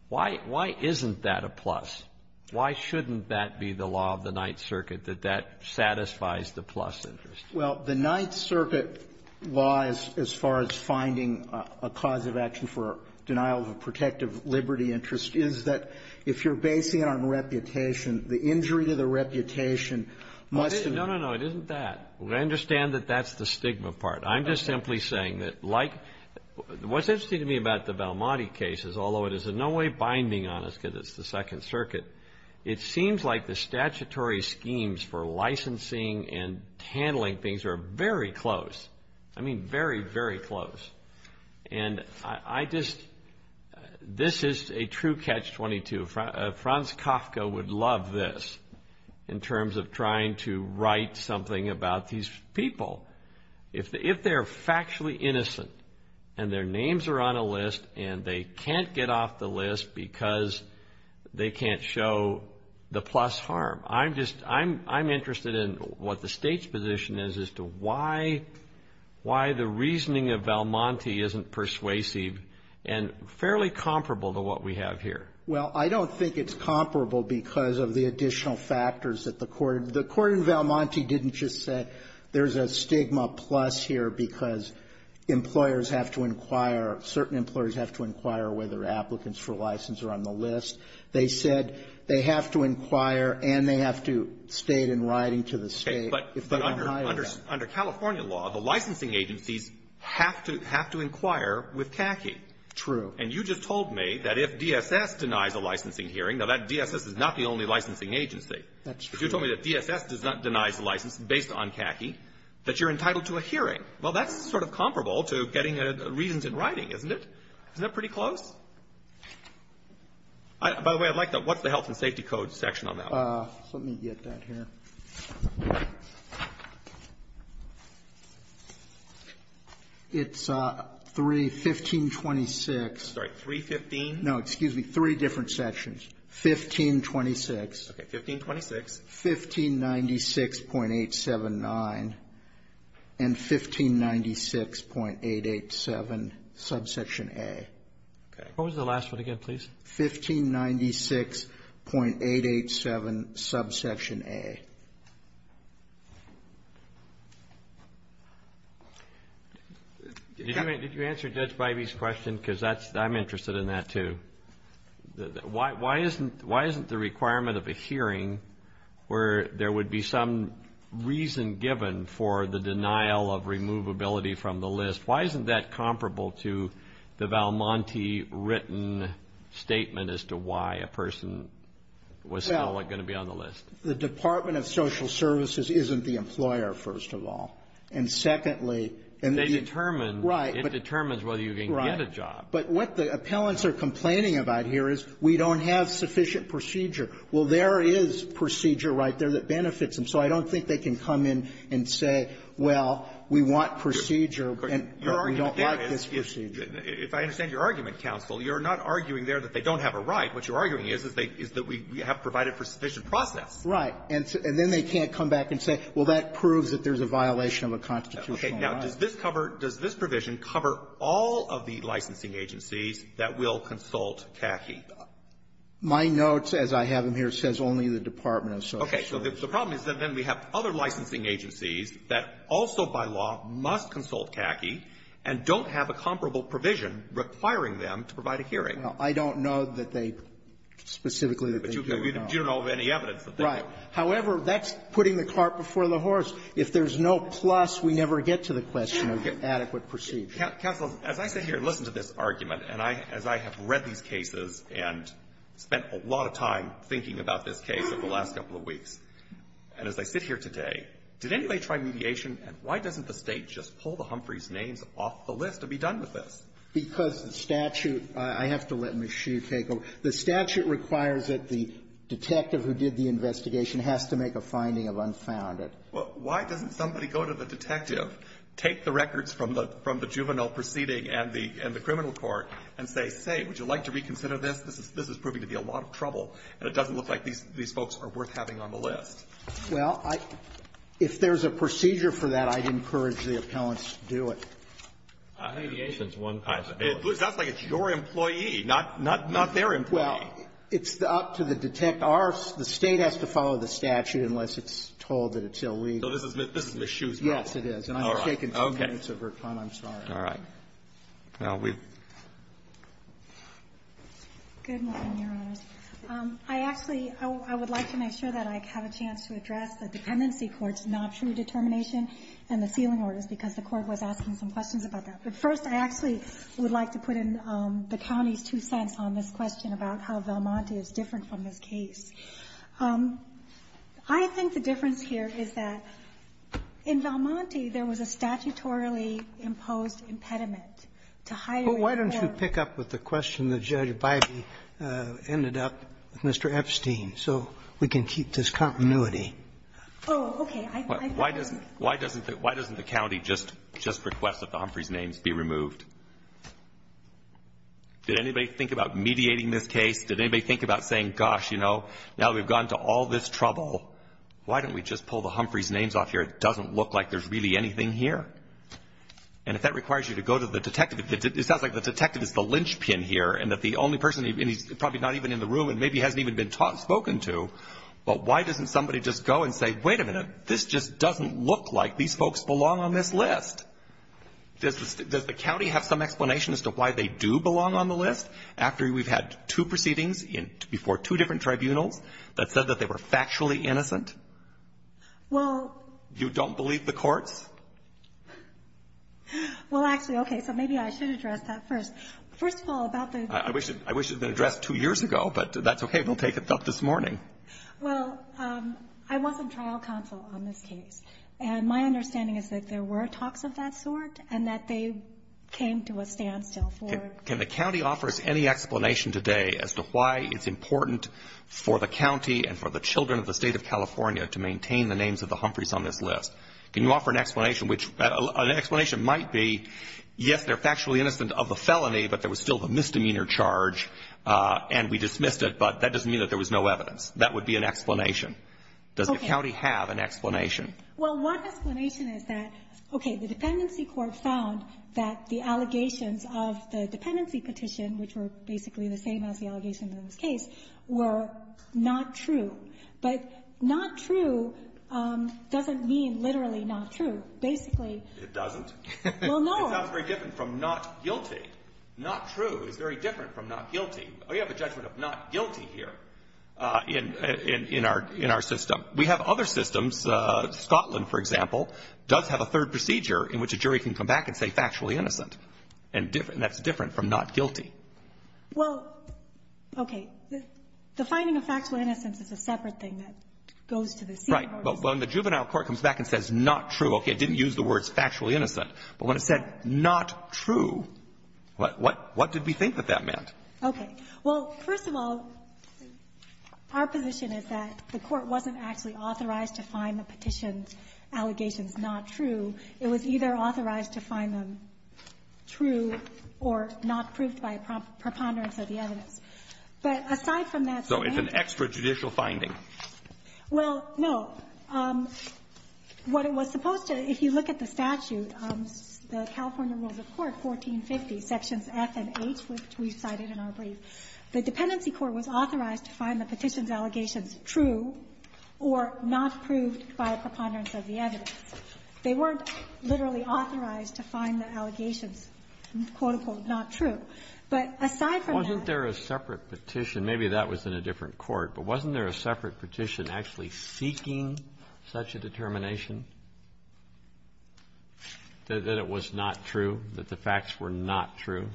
Why isn't that a plus? Why shouldn't that be the law of the Ninth Circuit, that that satisfies the plus interest? Well, the Ninth Circuit law, as far as finding a cause of action for denial of a protective liberty interest, is that if you're basing it on reputation, the injury to the reputation must be... No, no, no. It isn't that. I understand that that's the stigma part. I'm just simply saying that, like, what's interesting to me about the Belmonte cases, although it is in no way binding on us because it's the Second Circuit, it seems like the statutory schemes for licensing and handling things are very close. I mean very, very close. And I just... This is a true catch-22. Franz Kafka would love this in terms of trying to write something about these people. If they're factually innocent and their names are on a list and they can't get off the list because they can't show the plus harm, I'm interested in what the state's position is as to why the reasoning of Belmonte isn't persuasive and fairly comparable to what we have here. Well, I don't think it's comparable because of the additional factors that the court... There's a stigma plus here because employers have to inquire, certain employers have to inquire whether applicants for license are on the list. They said they have to inquire and they have to state in writing to the state. But under California law, the licensing agencies have to inquire with KACI. True. And you just told me that if DSS denies a licensing hearing, now that DSS is not the only licensing agency. That's true. You told me that DSS denies license based on KACI, that you're entitled to a hearing. Well, that's sort of comparable to getting reasons in writing, isn't it? Isn't that pretty close? By the way, I'd like to know what the health and safety code section on that is. Let me get that here. It's 31526. Sorry, 315? No, excuse me, three different sections. 1526. Okay, 1526. 1596.879 and 1596.887, subsection A. What was the last one again, please? 1596.887, subsection A. Did you answer Judge Bybee's question because I'm interested in that too. Why isn't the requirement of a hearing where there would be some reason given for the denial of removability from the list, why isn't that comparable to the Val Monti written statement as to why a person was still going to be on the list? Well, the Department of Social Services isn't the employer, first of all. And secondly... It determines whether you can get a job. But what the appellants are complaining about here is we don't have sufficient procedure. Well, there is procedure right there that benefits them, so I don't think they can come in and say, well, we want procedure, but we don't like this procedure. If I understand your argument, counsel, you're not arguing there that they don't have a right. What you're arguing is that we have provided for sufficient process. Right. And then they can't come back and say, well, that proves that there's a violation of a constitutional right. Okay, now, does this provision cover all of the licensing agencies that will consult CACI? My notes, as I have them here, says only the Department of Social Services. Okay, so the problem is that then we have other licensing agencies that also by law must consult CACI and don't have a comparable provision requiring them to provide a hearing. Now, I don't know that they specifically that they do. But you don't know of any evidence that they do. However, that's putting the cart before the horse. If there's no plus, we never get to the question of adequate procedure. Counsel, as I sit here and listen to this argument, and as I have read these cases and spent a lot of time thinking about this case over the last couple of weeks, and as I sit here today, did anybody try mediation, and why doesn't the State just pull the Humphreys' names off the list to be done with this? Because the statute, I have to let Ms. Hsu take over, the statute requires that the detective who did the investigation has to make a finding of unfounded. Well, why doesn't somebody go to the detective, take the records from the juvenile proceeding and the criminal court, and say, hey, would you like to reconsider this? This is proving to be a lot of trouble, and it doesn't look like these folks are worth having on the list. Well, if there's a procedure for that, I'd encourage the appellants to do it. Mediation is one possibility. It sounds like it's your employee, not their employee. Well, it's up to the detective. The State has to follow the statute unless it's told that it's illegal. So this is Ms. Hsu's case? Yes, it is. And I'm taking two minutes of her time, I'm sorry. All right. I actually, I would like to make sure that I have a chance to address the dependency court's not true determination and the sealing orders, because the court was asking some questions about that. But first, I actually would like to put in the county's two cents on this question about how Valmonte is different from this case. I think the difference here is that in Valmonte, there was a statutorily imposed impediment. Well, why don't you pick up with the question that Judge Biden ended up with Mr. Epstein, so we can keep this continuity. Oh, okay. Why doesn't the county just request that the Humphreys' names be removed? Did anybody think about mediating this case? Did anybody think about saying, gosh, you know, now we've gone to all this trouble, why don't we just pull the Humphreys' names off here? It doesn't look like there's really anything here. And if that requires you to go to the detective, it sounds like the detective is the linchpin here, and that the only person, and he's probably not even in the room, and maybe hasn't even been spoken to. But why doesn't somebody just go and say, wait a minute, this just doesn't look like these folks belong on this list. Does the county have some explanation as to why they do belong on the list, after we've had two proceedings before two different tribunals that said that they were factually innocent? You don't believe the courts? Well, actually, okay, so maybe I should address that first. I wish it had been addressed two years ago, but that's okay. We'll take it up this morning. Well, I wasn't trial counsel on this case, and my understanding is that there were talks of that sort and that they came to a standstill. Can the county offer any explanation today as to why it's important for the county and for the children of the state of California to maintain the names of the Humphreys on this list? Can you offer an explanation, which an explanation might be, yes, they're factually innocent of the felony, but there was still a misdemeanor charge, and we dismissed it, but that doesn't mean that there was no evidence. That would be an explanation. Does the county have an explanation? Well, one explanation is that, okay, the dependency court found that the allegations of the dependency petition, which were basically the same as the allegations in this case, were not true. But not true doesn't mean literally not true. Basically... It doesn't? Well, no. It sounds very different from not guilty. Not true is very different from not guilty. We have a judgment of not guilty here in our system. We have other systems. Scotland, for example, does have a third procedure in which a jury can come back and say factually innocent, and that's different from not guilty. Well, okay, the finding of factually innocence is a separate thing that goes to the... Right. But when the juvenile court comes back and says not true, okay, it didn't use the words factually innocent, but when it said not true, what did we think that that meant? Okay. Well, first of all, our position is that the court wasn't actually authorized to find the petition allegations not true. It was either authorized to find them true or not proved by a preponderance of the evidence. But aside from that... So it's an extrajudicial finding. Well, no. What it was supposed to, if you look at the statute, the California Rules of Court, 1450, sections F and H, which we cited in our brief, the dependency court was authorized to find the petition allegations true or not proved by a preponderance of the evidence. They weren't literally authorized to find the allegations, and it's quotable not true. But aside from that... Wasn't there a separate petition? Maybe that was in a different court, but wasn't there a separate petition actually seeking such a determination that it was not true, that the facts were not true?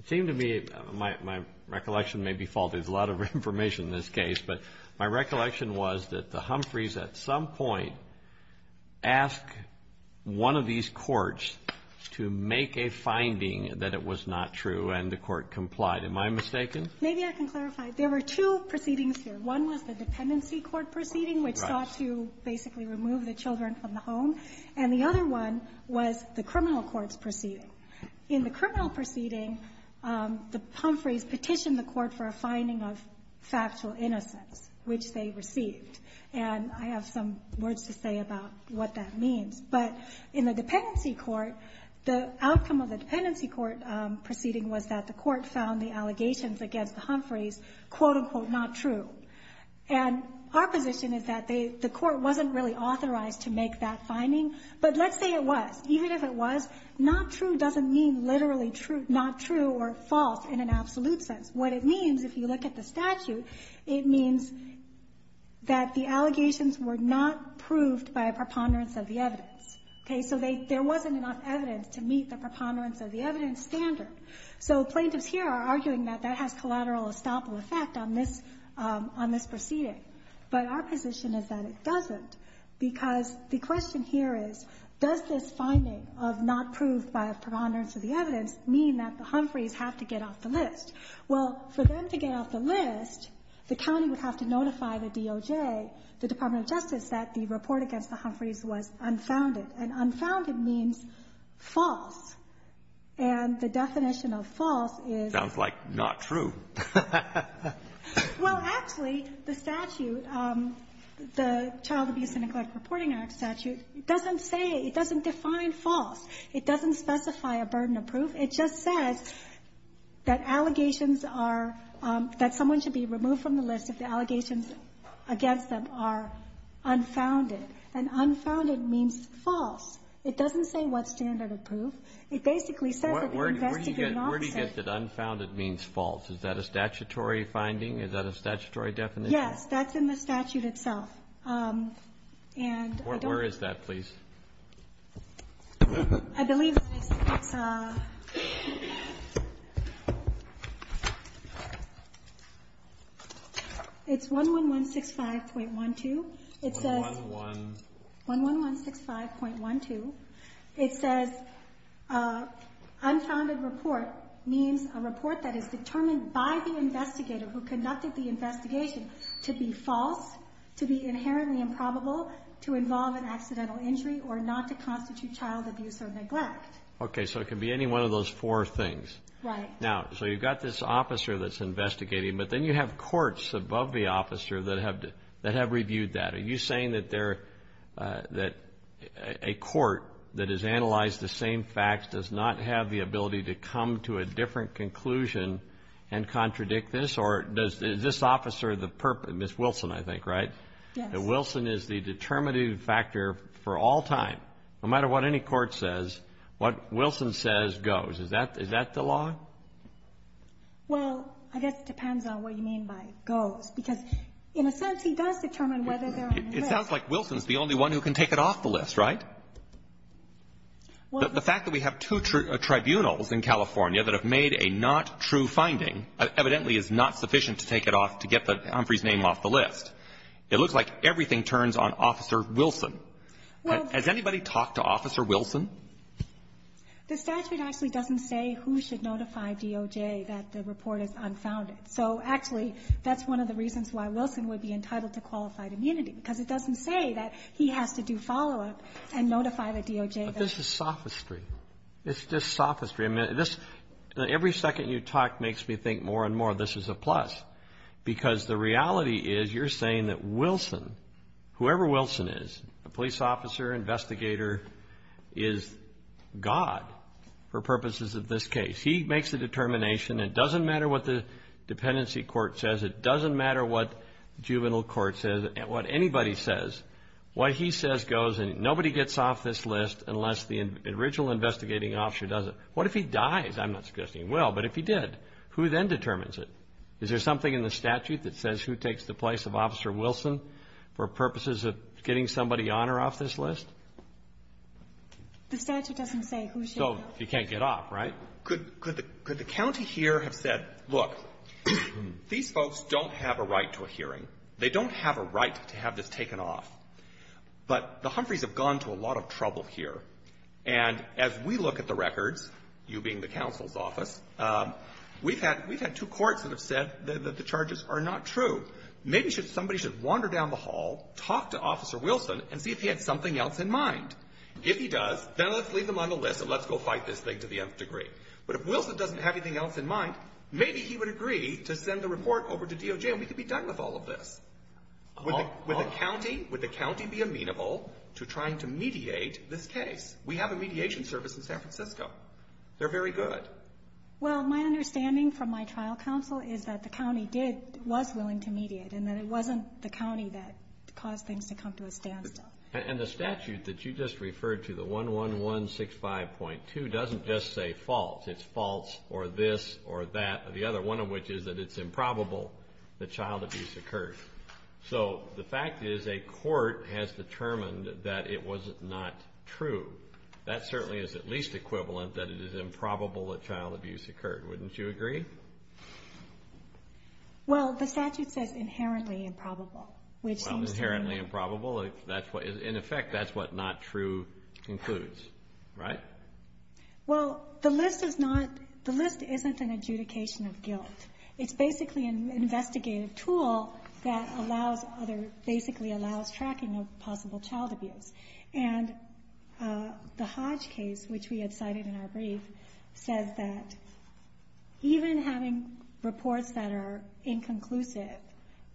It seemed to me, my recollection may be faulty with a lot of information in this case, but my recollection was that the Humphreys at some point asked one of these courts to make a finding that it was not true and the court complied. Am I mistaken? Maybe I can clarify. There were two proceedings here. One was the dependency court proceeding, which sought to basically remove the children from the home, and the other one was the criminal court's proceeding. In the criminal proceeding, the Humphreys petitioned the court for a finding of factual innocence, which they received, and I have some words to say about what that means. But in the dependency court, the outcome of the dependency court proceeding was that the court found the allegations against the Humphreys, quote-unquote, not true. And our position is that the court wasn't really authorized to make that finding, but let's say it was. Even if it was, not true doesn't mean literally not true or false in an absolute sense. What it means, if you look at the statute, it means that the allegations were not proved by a preponderance of the evidence. Okay? So there wasn't enough evidence to meet the preponderance of the evidence standard. So plaintiffs here are arguing that that has collateral and estoppel effect on this proceeding, but our position is that it doesn't, because the question here is, does this finding of not proof by a preponderance of the evidence mean that the Humphreys have to get off the list? Well, for them to get off the list, the county would have to notify the DOJ, the Department of Justice, that the report against the Humphreys was unfounded, and unfounded means false. And the definition of false is... Sounds like not true. Well, actually, the statute, the Child Abuse and Incarceration Reporting Act statute, it doesn't say, it doesn't define false. It doesn't specify a burden of proof. It just says that allegations are, that someone should be removed from the list if the allegations against them are unfounded. And unfounded means false. It doesn't say what standard of proof. It basically says that the investigation... Where do you get that unfounded means false? Is that a statutory finding? Is that a statutory definition? Yes. That's in the statute itself. And... Where is that, please? I believe it's... It's 11165.12. It says... 11... 11165.12. It says, unfounded report means a report that is determined by the investigator who conducted the investigation to be false, to be inherently improbable, to involve an accidental injury, or not to constitute child abuse or neglect. Okay, so it can be any one of those four things. Right. Now, so you've got this officer that's investigating, but then you have courts above the officer that have reviewed that. Are you saying that a court that has analyzed the same facts does not have the ability to come to a different conclusion and contradict this? Or does this officer, Ms. Wilson, I think, right? Yes. Wilson is the determining factor for all time. No matter what any court says, what Wilson says goes. Is that the law? Well, I guess it depends on what you mean by goes. Because, in a sense, he does determine whether they're on the list. It sounds like Wilson's the only one who can take it off the list, right? Well... The fact that we have two tribunals in California that have made a not true finding evidently is not sufficient to take it off, to get Humphrey's name off the list. It looks like everything turns on Officer Wilson. Well... Has anybody talked to Officer Wilson? The statute actually doesn't say who should notify DOJ that the report is unfounded. So, actually, that's one of the reasons why Wilson would be entitled to qualified immunity. Because it doesn't say that he has to do follow-up and notify the DOJ. But this is sophistry. It's just sophistry. Every second you talk makes me think more and more this is a plus. Because the reality is you're saying that Wilson, whoever Wilson is, police officer, investigator, is God for purposes of this case. He makes the determination. It doesn't matter what the dependency court says. It doesn't matter what juvenile court says, what anybody says. What he says goes, and nobody gets off this list unless the original investigating officer does it. What if he dies? I'm not suggesting he will, but if he did, who then determines it? Is there something in the statute that says who takes the place of Officer Wilson for purposes of getting somebody on or off this list? The statute doesn't say who should. So, he can't get off, right? Could the county here have said, look, these folks don't have a right to a hearing. They don't have a right to have this taken off. But the Humphreys have gone to a lot of trouble here. And as we look at the records, you being the counsel's office, we've had two courts that have said that the charges are not true. Maybe somebody should wander down the hall, talk to Officer Wilson, and see if he has something else in mind. If he does, then let's leave him on the list, and let's go fight this thing to the nth degree. But if Wilson doesn't have anything else in mind, maybe he would agree to send the report over to DOJ, and we could be done with all of this. Would the county be amenable to trying to mediate this case? We have a mediation service in San Francisco. They're very good. Well, my understanding from my trial counsel is that the county was willing to mediate, and that it wasn't the county that caused things to come to a standstill. And the statute that you just referred to, the 11165.2, doesn't just say false. It's false or this or that or the other, one of which is that it's improbable that child abuse occurred. So the fact is a court has determined that it was not true. That certainly is at least equivalent that it is improbable that child abuse occurred. Wouldn't you agree? Well, the statute says inherently improbable. Inherently improbable? In effect, that's what not true includes, right? Well, the list isn't an adjudication of guilt. It's basically an investigative tool that basically allows tracking of possible child abuse. And the Hodge case, which we had cited in our brief, says that even having reports that are inconclusive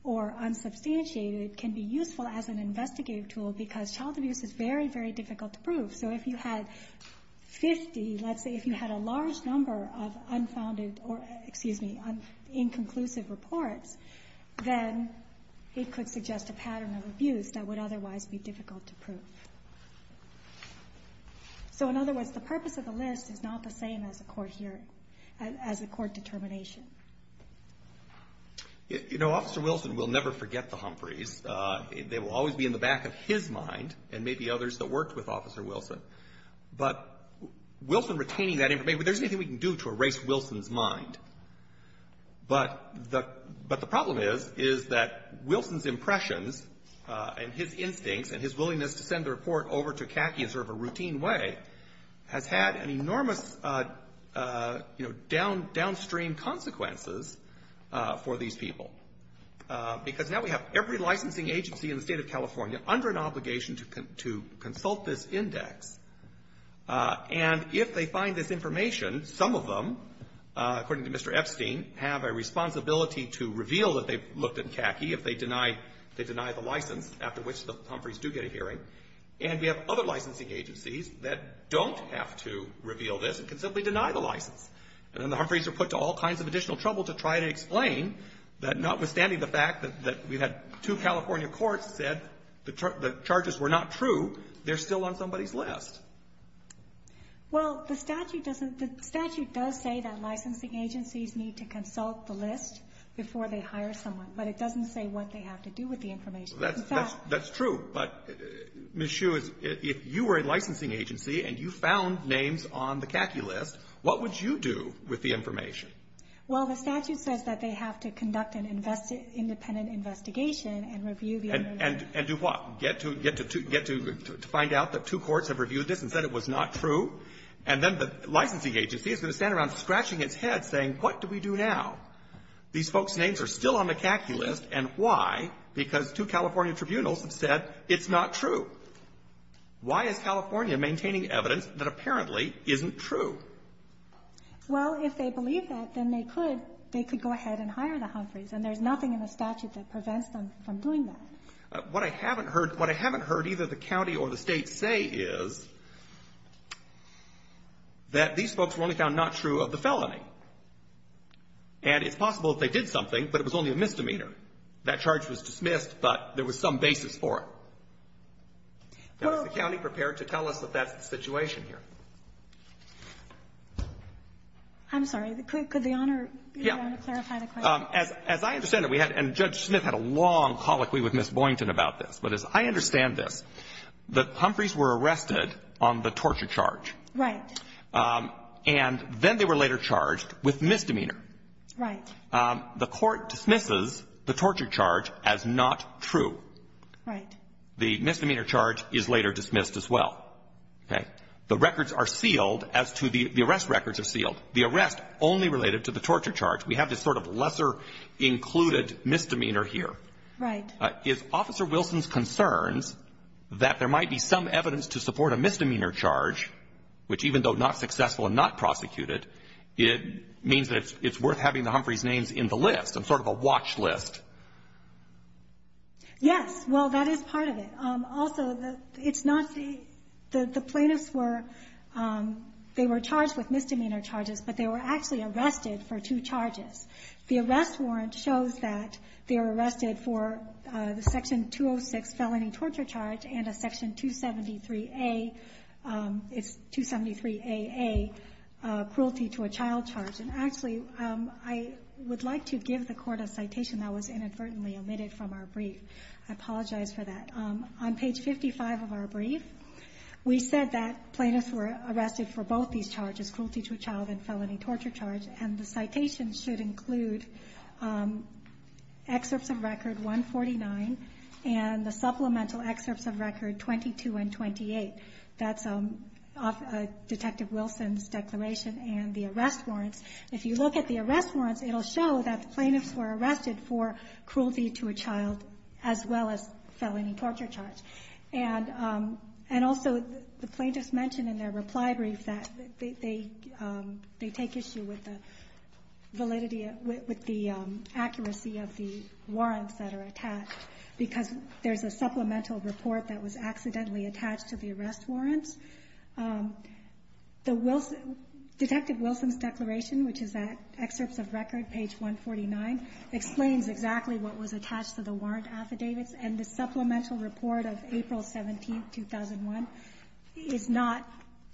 or unsubstantiated can be useful as an investigative tool because child abuse is very, very difficult to prove. So if you had 50, let's say if you had a large number of unfounded or, excuse me, inconclusive reports, then it could suggest a pattern of abuse that would otherwise be difficult to prove. So in other words, the purpose of the list is not the same as the court determination. You know, Officer Wilson will never forget the Humphreys. They will always be in the back of his mind and maybe others that worked with Officer Wilson. But Wilson retaining that information, there's nothing we can do to erase Wilson's mind. But the problem is that Wilson's impressions and his instincts and his willingness to send the report over to CACI in sort of a routine way has had enormous downstream consequences for these people. Because now we have every licensing agency in the state of California under an obligation to consult this index. And if they find this information, some of them, according to Mr. Epstein, have a responsibility to reveal that they've looked at CACI if they deny the license, after which the Humphreys do get a hearing. And we have other licensing agencies that don't have to reveal this and can simply deny the license. And then the Humphreys are put to all kinds of additional trouble to try to explain that notwithstanding the fact that we had two California courts that the charges were not true, they're still on somebody's list. Well, the statute doesn't, the statute does say that licensing agencies need to consult the list before they hire someone. But it doesn't say what they have to do with the information. That's true. But Ms. Hsu, if you were a licensing agency and you found names on the CACI list, what would you do with the information? Well, the statute says that they have to conduct an independent investigation and review the information. And do what? Get to find out that two courts have reviewed this and said it was not true? And then the licensing agency is going to stand around scratching its head saying, what do we do now? These folks' names are still on the CACI list, and why? Because two California tribunals have said it's not true. Why is California maintaining evidence that apparently isn't true? Well, if they believe that, then they could go ahead and hire the huntress, and there's nothing in the statute that prevents them from doing that. What I haven't heard either the county or the state say is that these folks were only found not true of the felony. And it's possible that they did something, but it was only a misdemeanor. That charge was dismissed, but there was some basis for it. Is the county prepared to tell us about that situation here? I'm sorry, could the owner clarify the question? As I understand it, and Judge Smith had a long colloquy with Ms. Boynton about this, but as I understand it, the Humphreys were arrested on the torture charge. Right. And then they were later charged with misdemeanor. Right. The court dismisses the torture charge as not true. Right. The misdemeanor charge is later dismissed as well. Okay. The records are sealed as to the arrest records are sealed. The arrest only related to the torture charge. We have this sort of lesser included misdemeanor here. Right. If Officer Wilson's concerns that there might be some evidence to support a misdemeanor charge, which even though not successful and not prosecuted, it means that it's worth having the Humphreys' names in the list and sort of a watch list. Yes. Well, that is part of it. Also, it's not the plaintiffs were charged with misdemeanor charges, but they were actually arrested for two charges. The arrest warrant shows that they were arrested for the Section 206 felony torture charge and a Section 273AA cruelty to a child charge. Actually, I would like to give the court a citation that was inadvertently omitted from our brief. I apologize for that. On page 55 of our brief, we said that plaintiffs were arrested for both these charges, cruelty to a child and felony torture charge, and the citation should include excerpts of record 149 and the supplemental excerpts of record 22 and 28. That's Detective Wilson's declaration and the arrest warrant. If you look at the arrest warrant, it will show that the plaintiffs were arrested for cruelty to a child as well as felony torture charge. And also, the plaintiffs mentioned in their reply brief that they take issue with the validity, with the accuracy of the warrants that are attached because there's a supplemental report that was accidentally attached to the arrest warrant. Detective Wilson's declaration, which is that excerpt of record, page 149, explains exactly what was attached to the warrant affidavits, and the supplemental report of April 17, 2001, is not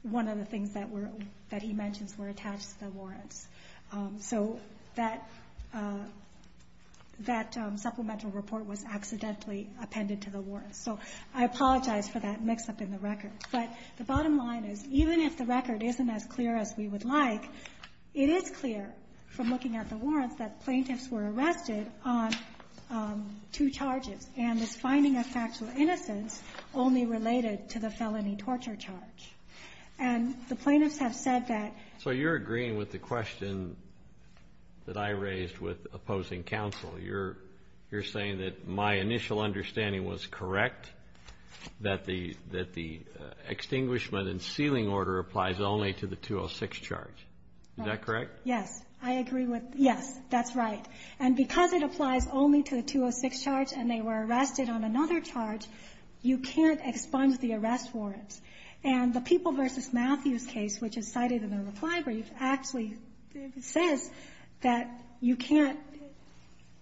one of the things that he mentions were attached to the warrants. So that supplemental report was accidentally appended to the warrants. So I apologize for that mix-up in the record. But the bottom line is even if the record isn't as clear as we would like, it is clear from looking at the warrants that plaintiffs were arrested on two charges and the finding of factual innocence only related to the felony torture charge. And the plaintiffs have said that... So you're agreeing with the question that I raised with opposing counsel. You're saying that my initial understanding was correct, that the extinguishment and sealing order applies only to the 206 charge. Is that correct? Yes. I agree with... Yes, that's right. And because it applies only to the 206 charge and they were arrested on another charge, you can't expunge the arrest warrants. And the People v. Matthews case, which is cited in the reply brief, actually says that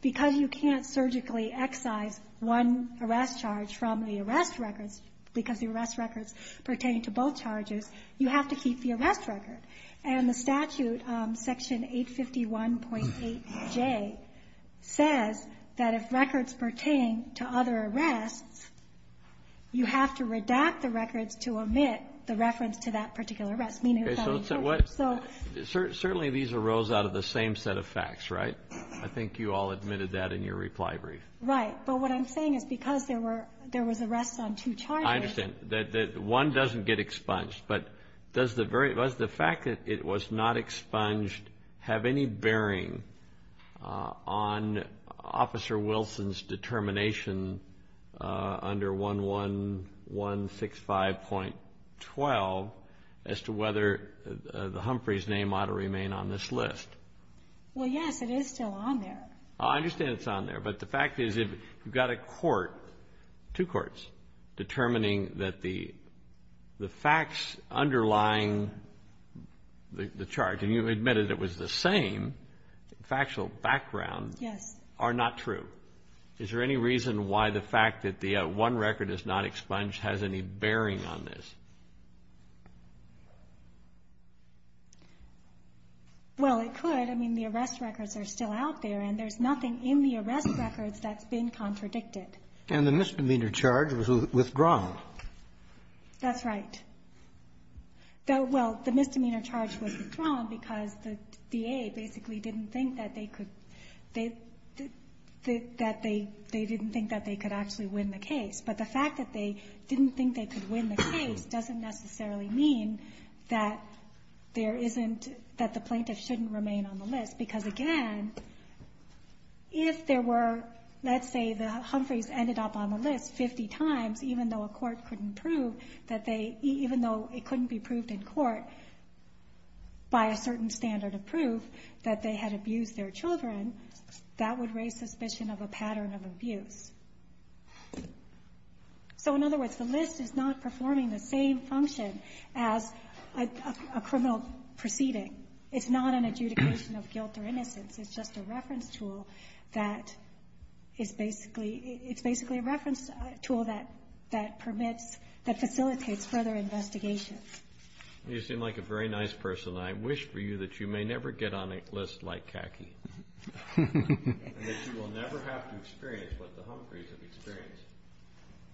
because you can't surgically excise one arrest charge from the arrest records because the arrest records pertain to both charges, you have to keep the arrest records. And the statute, Section 851.8J, says that if records pertain to other arrests, you have to redact the records to omit the reference to that particular arrest. Certainly these arose out of the same set of facts, right? I think you all admitted that in your reply brief. Right. But what I'm saying is because there were arrests on two charges... I understand. One doesn't get expunged. But does the fact that it was not expunged have any bearing on Officer Wilson's determination under 11165.12 as to whether Humphrey's name ought to remain on this list? Well, yes, it is still on there. I understand it's on there. But the fact is you've got a court, two courts, determining that the facts underlying the charge, and you admitted it was the same factual background, are not true. Is there any reason why the fact that the one record is not expunged has any bearing on this? Well, it could. The arrest records are still out there, and there's nothing in the arrest records that's been contradicted. And the misdemeanor charge was withdrawn. That's right. Well, the misdemeanor charge was withdrawn because the VA basically didn't think that they could actually win the case. But the fact that they didn't think they could win the case doesn't necessarily mean that the plaintiff shouldn't remain on the list. Because, again, if there were, let's say the Humphreys ended up on the list 50 times, even though it couldn't be proved in court by a certain standard of proof that they had abused their children, that would raise suspicion of a pattern of abuse. So, in other words, the list is not performing the same function as a criminal proceeding. It's not an adjudication of guilt or innocence. It's just a reference tool that is basically a reference tool that permits, that facilitates further investigation. You seem like a very nice person, and I wish for you that you may never get on a list like Kaki. And that you will never have to experience what the Humphreys have experienced.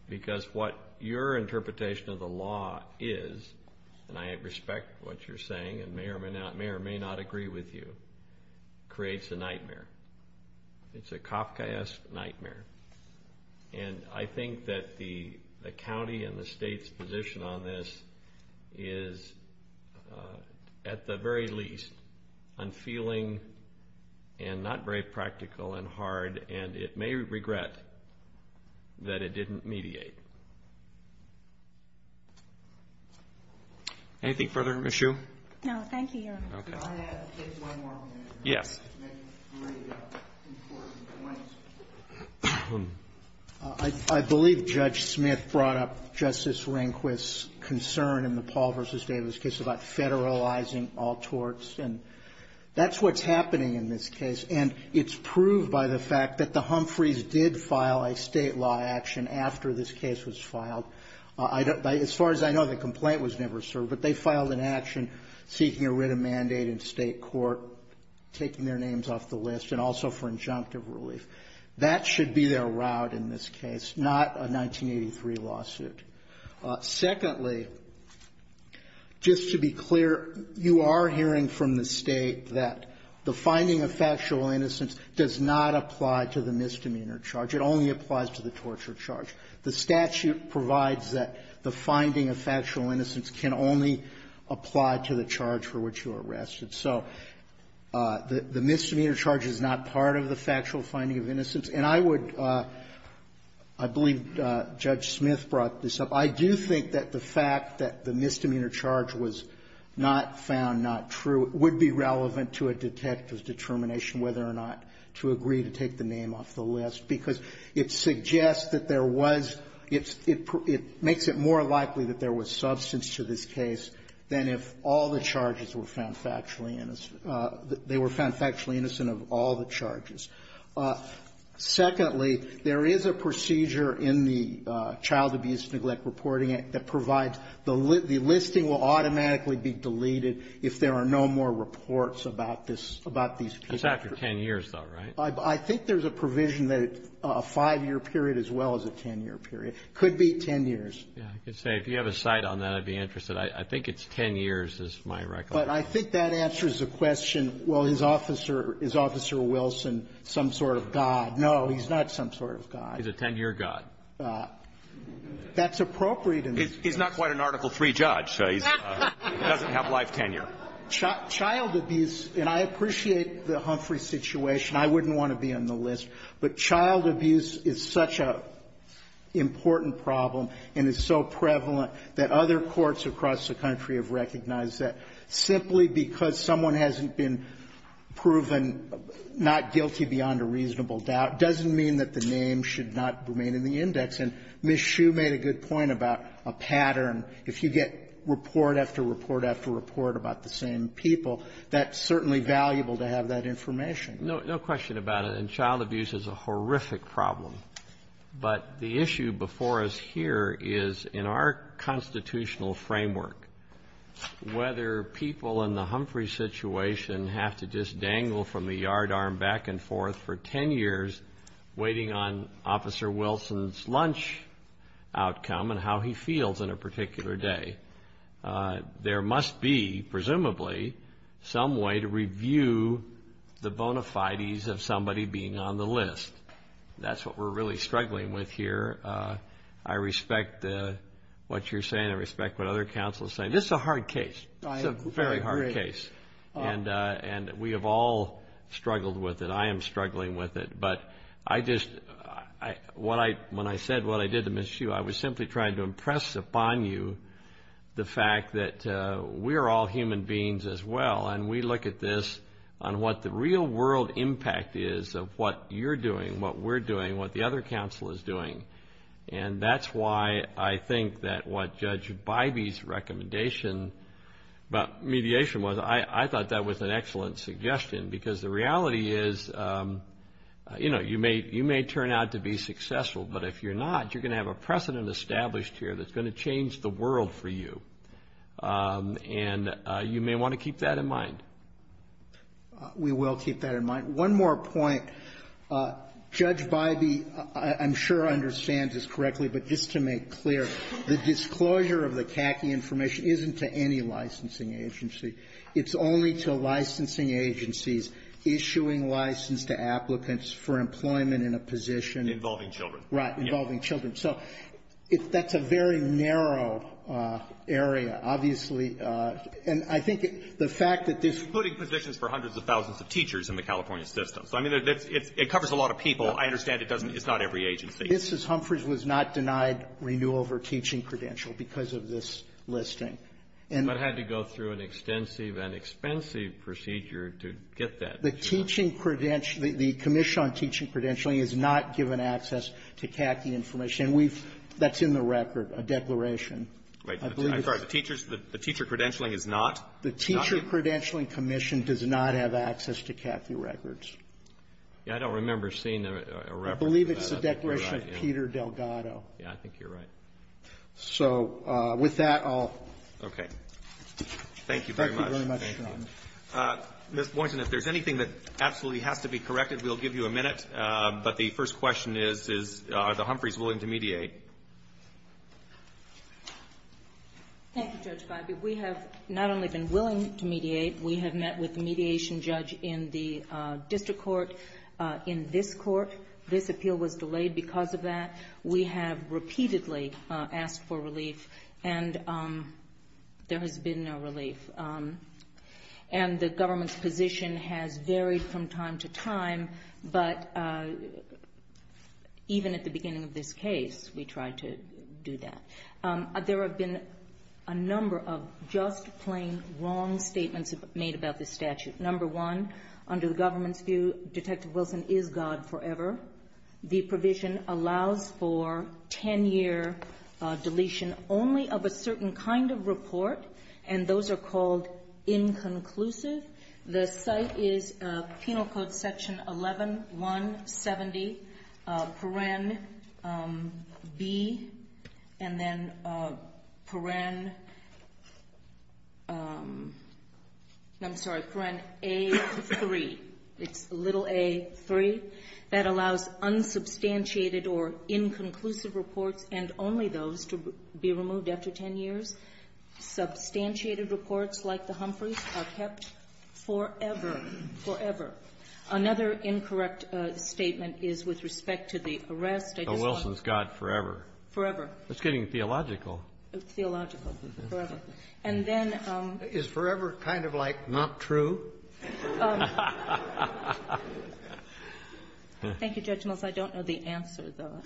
Because what your interpretation of the law is, and I respect what you're saying, and may or may not agree with you, creates a nightmare. It's a Kafkaesque nightmare. And I think that the county and the state's position on this is, at the very least, unfeeling and not very practical and hard, and it may regret that it didn't mediate. Anything further, Ms. Hsu? No, thank you. I'll add one more. Yeah. I believe Judge Smith brought up Justice Rehnquist's concern in the Paul v. Davis case about federalizing all torts. And that's what's happening in this case. And it's proved by the fact that the Humphreys did file a state law action after this case was filed. As far as I know, the complaint was never served, but they filed an action seeking a written mandate in state court, taking their names off the list, and also for injunctive relief. That should be their route in this case, not a 1983 lawsuit. Secondly, just to be clear, you are hearing from the state that the finding of factual innocence does not apply to the misdemeanor charge. It only applies to the torture charge. The statute provides that the finding of factual innocence can only apply to the charge for which you are arrested. So the misdemeanor charge is not part of the factual finding of innocence. And I would – I believe Judge Smith brought this up. I do think that the fact that the misdemeanor charge was not found, not true, would be relevant to a detective's determination whether or not to agree to take the name off the list, because it suggests that there was – it makes it more likely that there was substance to this case than if all the charges were found factually – they were found factually innocent of all the charges. Secondly, there is a procedure in the Child Abuse and Neglect Reporting Act that provides – the listing will automatically be deleted if there are no more reports about this – about these – It's after 10 years, though, right? I think there's a provision that a five-year period as well as a 10-year period. It could be 10 years. Yeah, I can say if you have a side on that, I'd be interested. I think it's 10 years is my record. But I think that answers the question, well, is Officer Wilson some sort of god? No, he's not some sort of god. He's a 10-year god. That's appropriate in this case. He's not quite an Article III judge, so he doesn't have life tenure. Child abuse – and I appreciate the Humphrey situation. I wouldn't want to be on the list, but child abuse is such an important problem and is so prevalent that other courts across the country have recognized that simply because someone hasn't been proven not guilty beyond a reasonable doubt doesn't mean that the name should not remain in the index. And Ms. Hsu made a good point about a pattern. If you get report after report after report about the same people, that's certainly valuable to have that information. No question about it. And child abuse is a horrific problem. But the issue before us here is, in our constitutional framework, whether people in the Humphrey situation have to just dangle from the yardarm back and forth for 10 years waiting on Officer Wilson's lunch outcome and how he feels in a particular day. There must be, presumably, some way to review the bona fides of somebody being on the list. That's what we're really struggling with here. I respect what you're saying. I respect what other counselors are saying. This is a hard case. It's a very hard case. And we have all struggled with it. I am struggling with it. But when I said what I did to Ms. Hsu, I was simply trying to impress upon you the fact that we're all human beings as well, and we look at this on what the real world impact is of what you're doing, what we're doing, what the other counsel is doing. And that's why I think that what Judge Bybee's recommendation about mediation was, I thought that was an excellent suggestion. Because the reality is, you know, you may turn out to be successful, but if you're not, you're going to have a precedent established here that's going to change the world for you. And you may want to keep that in mind. We will keep that in mind. One more point. Judge Bybee, I'm sure, understands this correctly, but just to make clear, the disclosure of the TACI information isn't to any licensing agency. It's only to licensing agencies issuing license to applicants for employment in a position. Involving children. Right, involving children. So that's a very narrow area, obviously. And I think the fact that this. Including positions for hundreds of thousands of teachers in the California system. I mean, it covers a lot of people. I understand it's not every agency. This is Humphreys was not denied renewal of her teaching credential because of this listing. I had to go through an extensive and expensive procedure to get that. The teaching credential, the commission on teaching credentialing is not given access to TACI information. And that's in the record, a declaration. I'm sorry, the teacher credentialing is not? The teacher credentialing commission does not have access to TACI records. Yeah, I don't remember seeing a record. I believe it's the declaration of Peter Delgado. Yeah, I think you're right. So, with that, I'll. Okay. Thank you very much. Thank you very much. Ms. Boynton, if there's anything that absolutely has to be corrected, we'll give you a minute. But the first question is, are the Humphreys willing to mediate? Thank you, Judge Feige. We have not only been willing to mediate. We have met with a mediation judge in the district court, in this court. This appeal was delayed because of that. We have repeatedly asked for relief. And there has been no relief. And the government's position has varied from time to time. But even at the beginning of this case, we tried to do that. There have been a number of just plain wrong statements made about this statute. Number one, under the government's view, Detective Wilson is God forever. The provision allows for 10-year deletion only of a certain kind of report. And those are called inconclusive. The site is Penal Code Section 11-170, Paren B, and then Paren A-3. It's little A-3. That allows unsubstantiated or inconclusive reports and only those to be removed after 10 years. Substantiated reports like the Humphreys are kept forever. Forever. Another incorrect statement is with respect to the arrest. Detective Wilson is God forever. Forever. It's getting theological. It's theological. Forever. Is forever kind of like not true? Thank you, Judge Mills. I don't know the answer, though.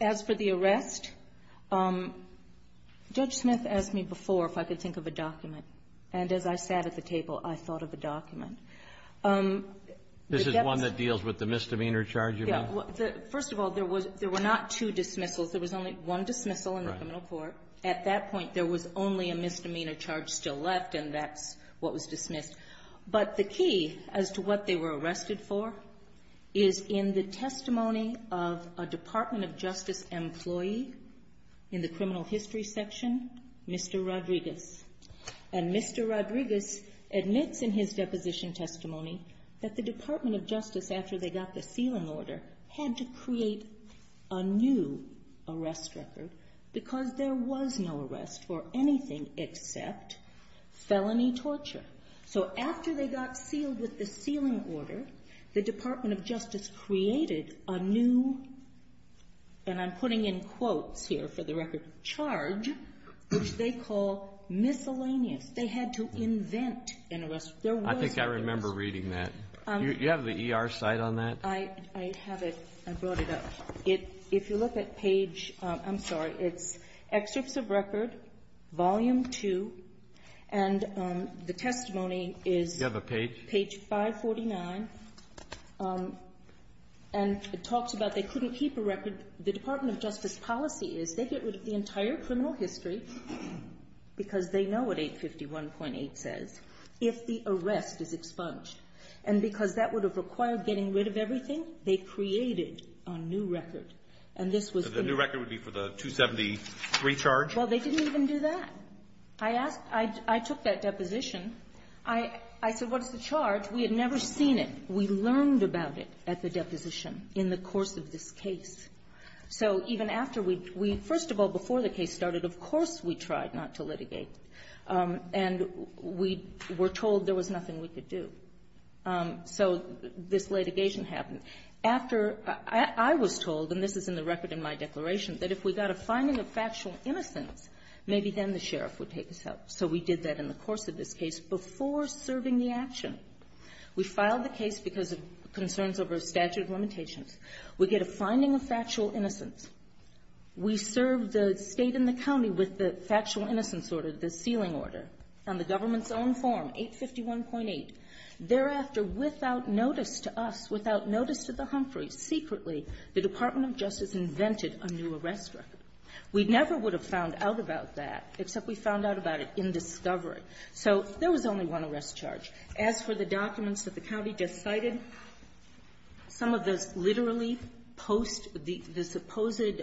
As for the arrest, Judge Smith asked me before if I could think of a document. And as I sat at the table, I thought of a document. This is one that deals with the misdemeanor charge? Yes. First of all, there were not two dismissals. There was only one dismissal in the criminal court. At that point, there was only a misdemeanor charge still in effect. But the key as to what they were arrested for is in the testimony of a Department of Justice employee in the criminal history section, Mr. Rodriguez. And Mr. Rodriguez admits in his deposition testimony that the Department of Justice, after they got the feeling order, had to create a new arrest record because there was no arrest for anything except felony torture. So after they got sealed with the sealing order, the Department of Justice created a new, and I'm putting in quotes here for the record, charge, which they call miscellaneous. They had to invent an arrest record. I think I remember reading that. Do you have the ER site on that? I have it. I brought it up. If you look at page, I'm sorry, it's Excessive Record, Volume 2, and the testimony is page 549. And it talks about they couldn't keep a record. The Department of Justice policy is they get rid of the entire criminal history because they know what 851.8 says if the arrest is expunged. And because that would have required getting rid of everything, they created a new record. And the new record would be for the 273 charge? Well, they didn't even do that. I took that deposition. I said, what's the charge? We had never seen it. We learned about it at the deposition in the course of this case. So even after we, first of all, before the case started, of course we tried not to litigate. And we were told there was nothing we could do. So this litigation happened. After I was told, and this is in the record in my declaration, that if we got a finding of factual innocence, maybe then the sheriff would take us out. So we did that in the course of this case before serving the action. We filed the case because of concerns over statute of limitations. We get a finding of factual innocence. We served the state and the county with the factual innocence order, the sealing order, on the government's own form, 851.8. Thereafter, without notice to us, without notice to the Humphreys, secretly, the Department of Justice invented a new arrest record. We never would have found out about that, except we found out about it in discovery. So there was only one arrest charge. As for the documents that the county just cited, some of those literally post the supposed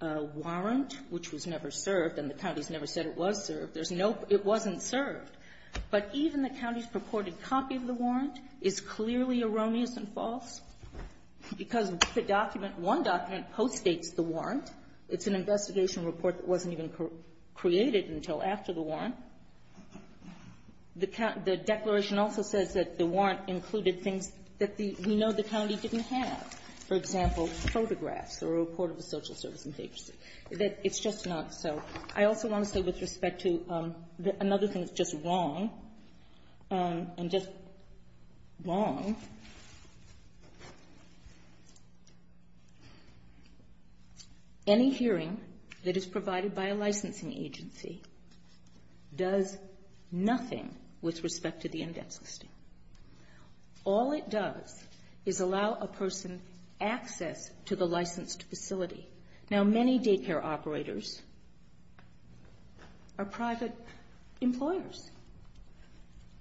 warrant, which was never served, and the county's never said it was served. There's no, it wasn't served. But even the county's purported copy of the warrant is clearly erroneous and false because the document, one document, postdates the warrant. It's an investigation report that wasn't even created until after the warrant. The declaration also says that the warrant included things that we know the county didn't have. For example, photographs or a report of the social services agency. It's just not so. I also want to say with respect to another thing that's just wrong, and just wrong. Any hearing that is provided by a licensing agency does nothing with respect to the index listing. All it does is allow a person access to the licensed facility. Now, many daycare operators are private employers.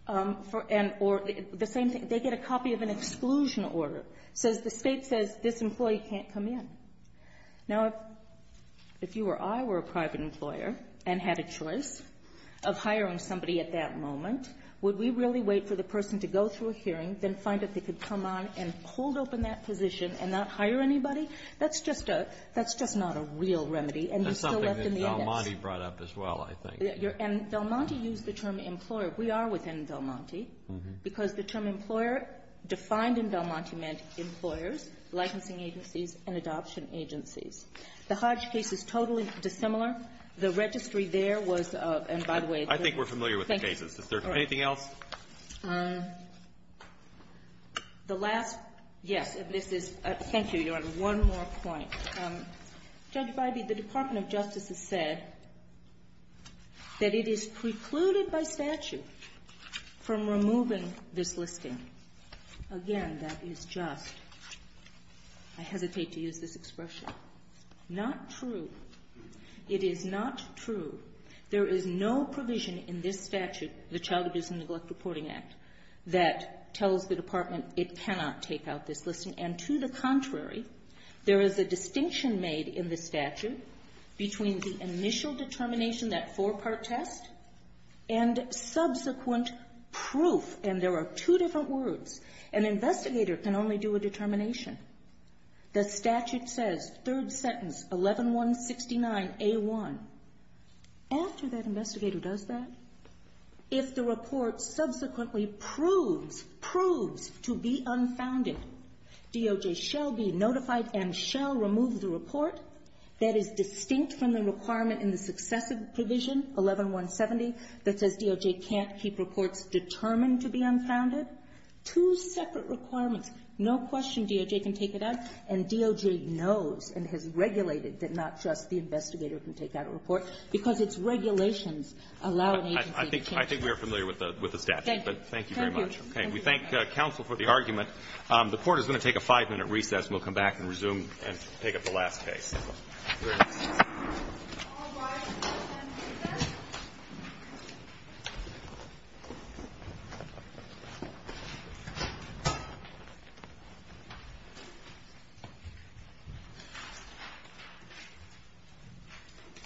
The same thing, they get a copy of an exclusion order. So the state says this employee can't come in. Now, if you or I were a private employer and had a choice of hiring somebody at that moment, would we really wait for the person to go through a hearing, then find that they could come on and hold open that position and not hire anybody? That's just not a real remedy. That's something that Del Monte brought up as well, I think. And Del Monte used the term employer. We are within Del Monte because the term employer defined in Del Monte meant employers, licensing agencies, and adoption agencies. The Hodge case is totally dissimilar. The registry there was, and by the way, I think we're familiar with the cases. Is there anything else? The last, yes. Thank you, Your Honor. One more point. Judge Bybee, the Department of Justice has said that it is precluded by statute from removing this listing. Again, that is just, I hesitate to use this expression, not true. It is not true. There is no provision in this statute, the Child Abuse and Neglect Reporting Act, that tells the Department it cannot take out this listing. And to the contrary, there is a distinction made in the statute between the initial determination, that four-part test, and subsequent proof. And there are two different words. An investigator can only do a determination. The statute says, third sentence, 11-1-59-A-1. After that investigator does that, if the report subsequently proves, proves to be unfounded, DOJ shall be notified and shall remove the report that is distinct from the requirement in the successive provision, 11-1-70, that says DOJ can't keep reports determined to be unfounded. Two separate requirements. No question DOJ can take it out, and DOJ knows and has regulated that not just the investigator can take out a report, because its regulations allow an agency to take it out. I think we are familiar with the statute. Thank you very much. We thank counsel for the argument. The Court is going to take a five-minute recess, and we'll come back and resume and take up the last case. Thank you.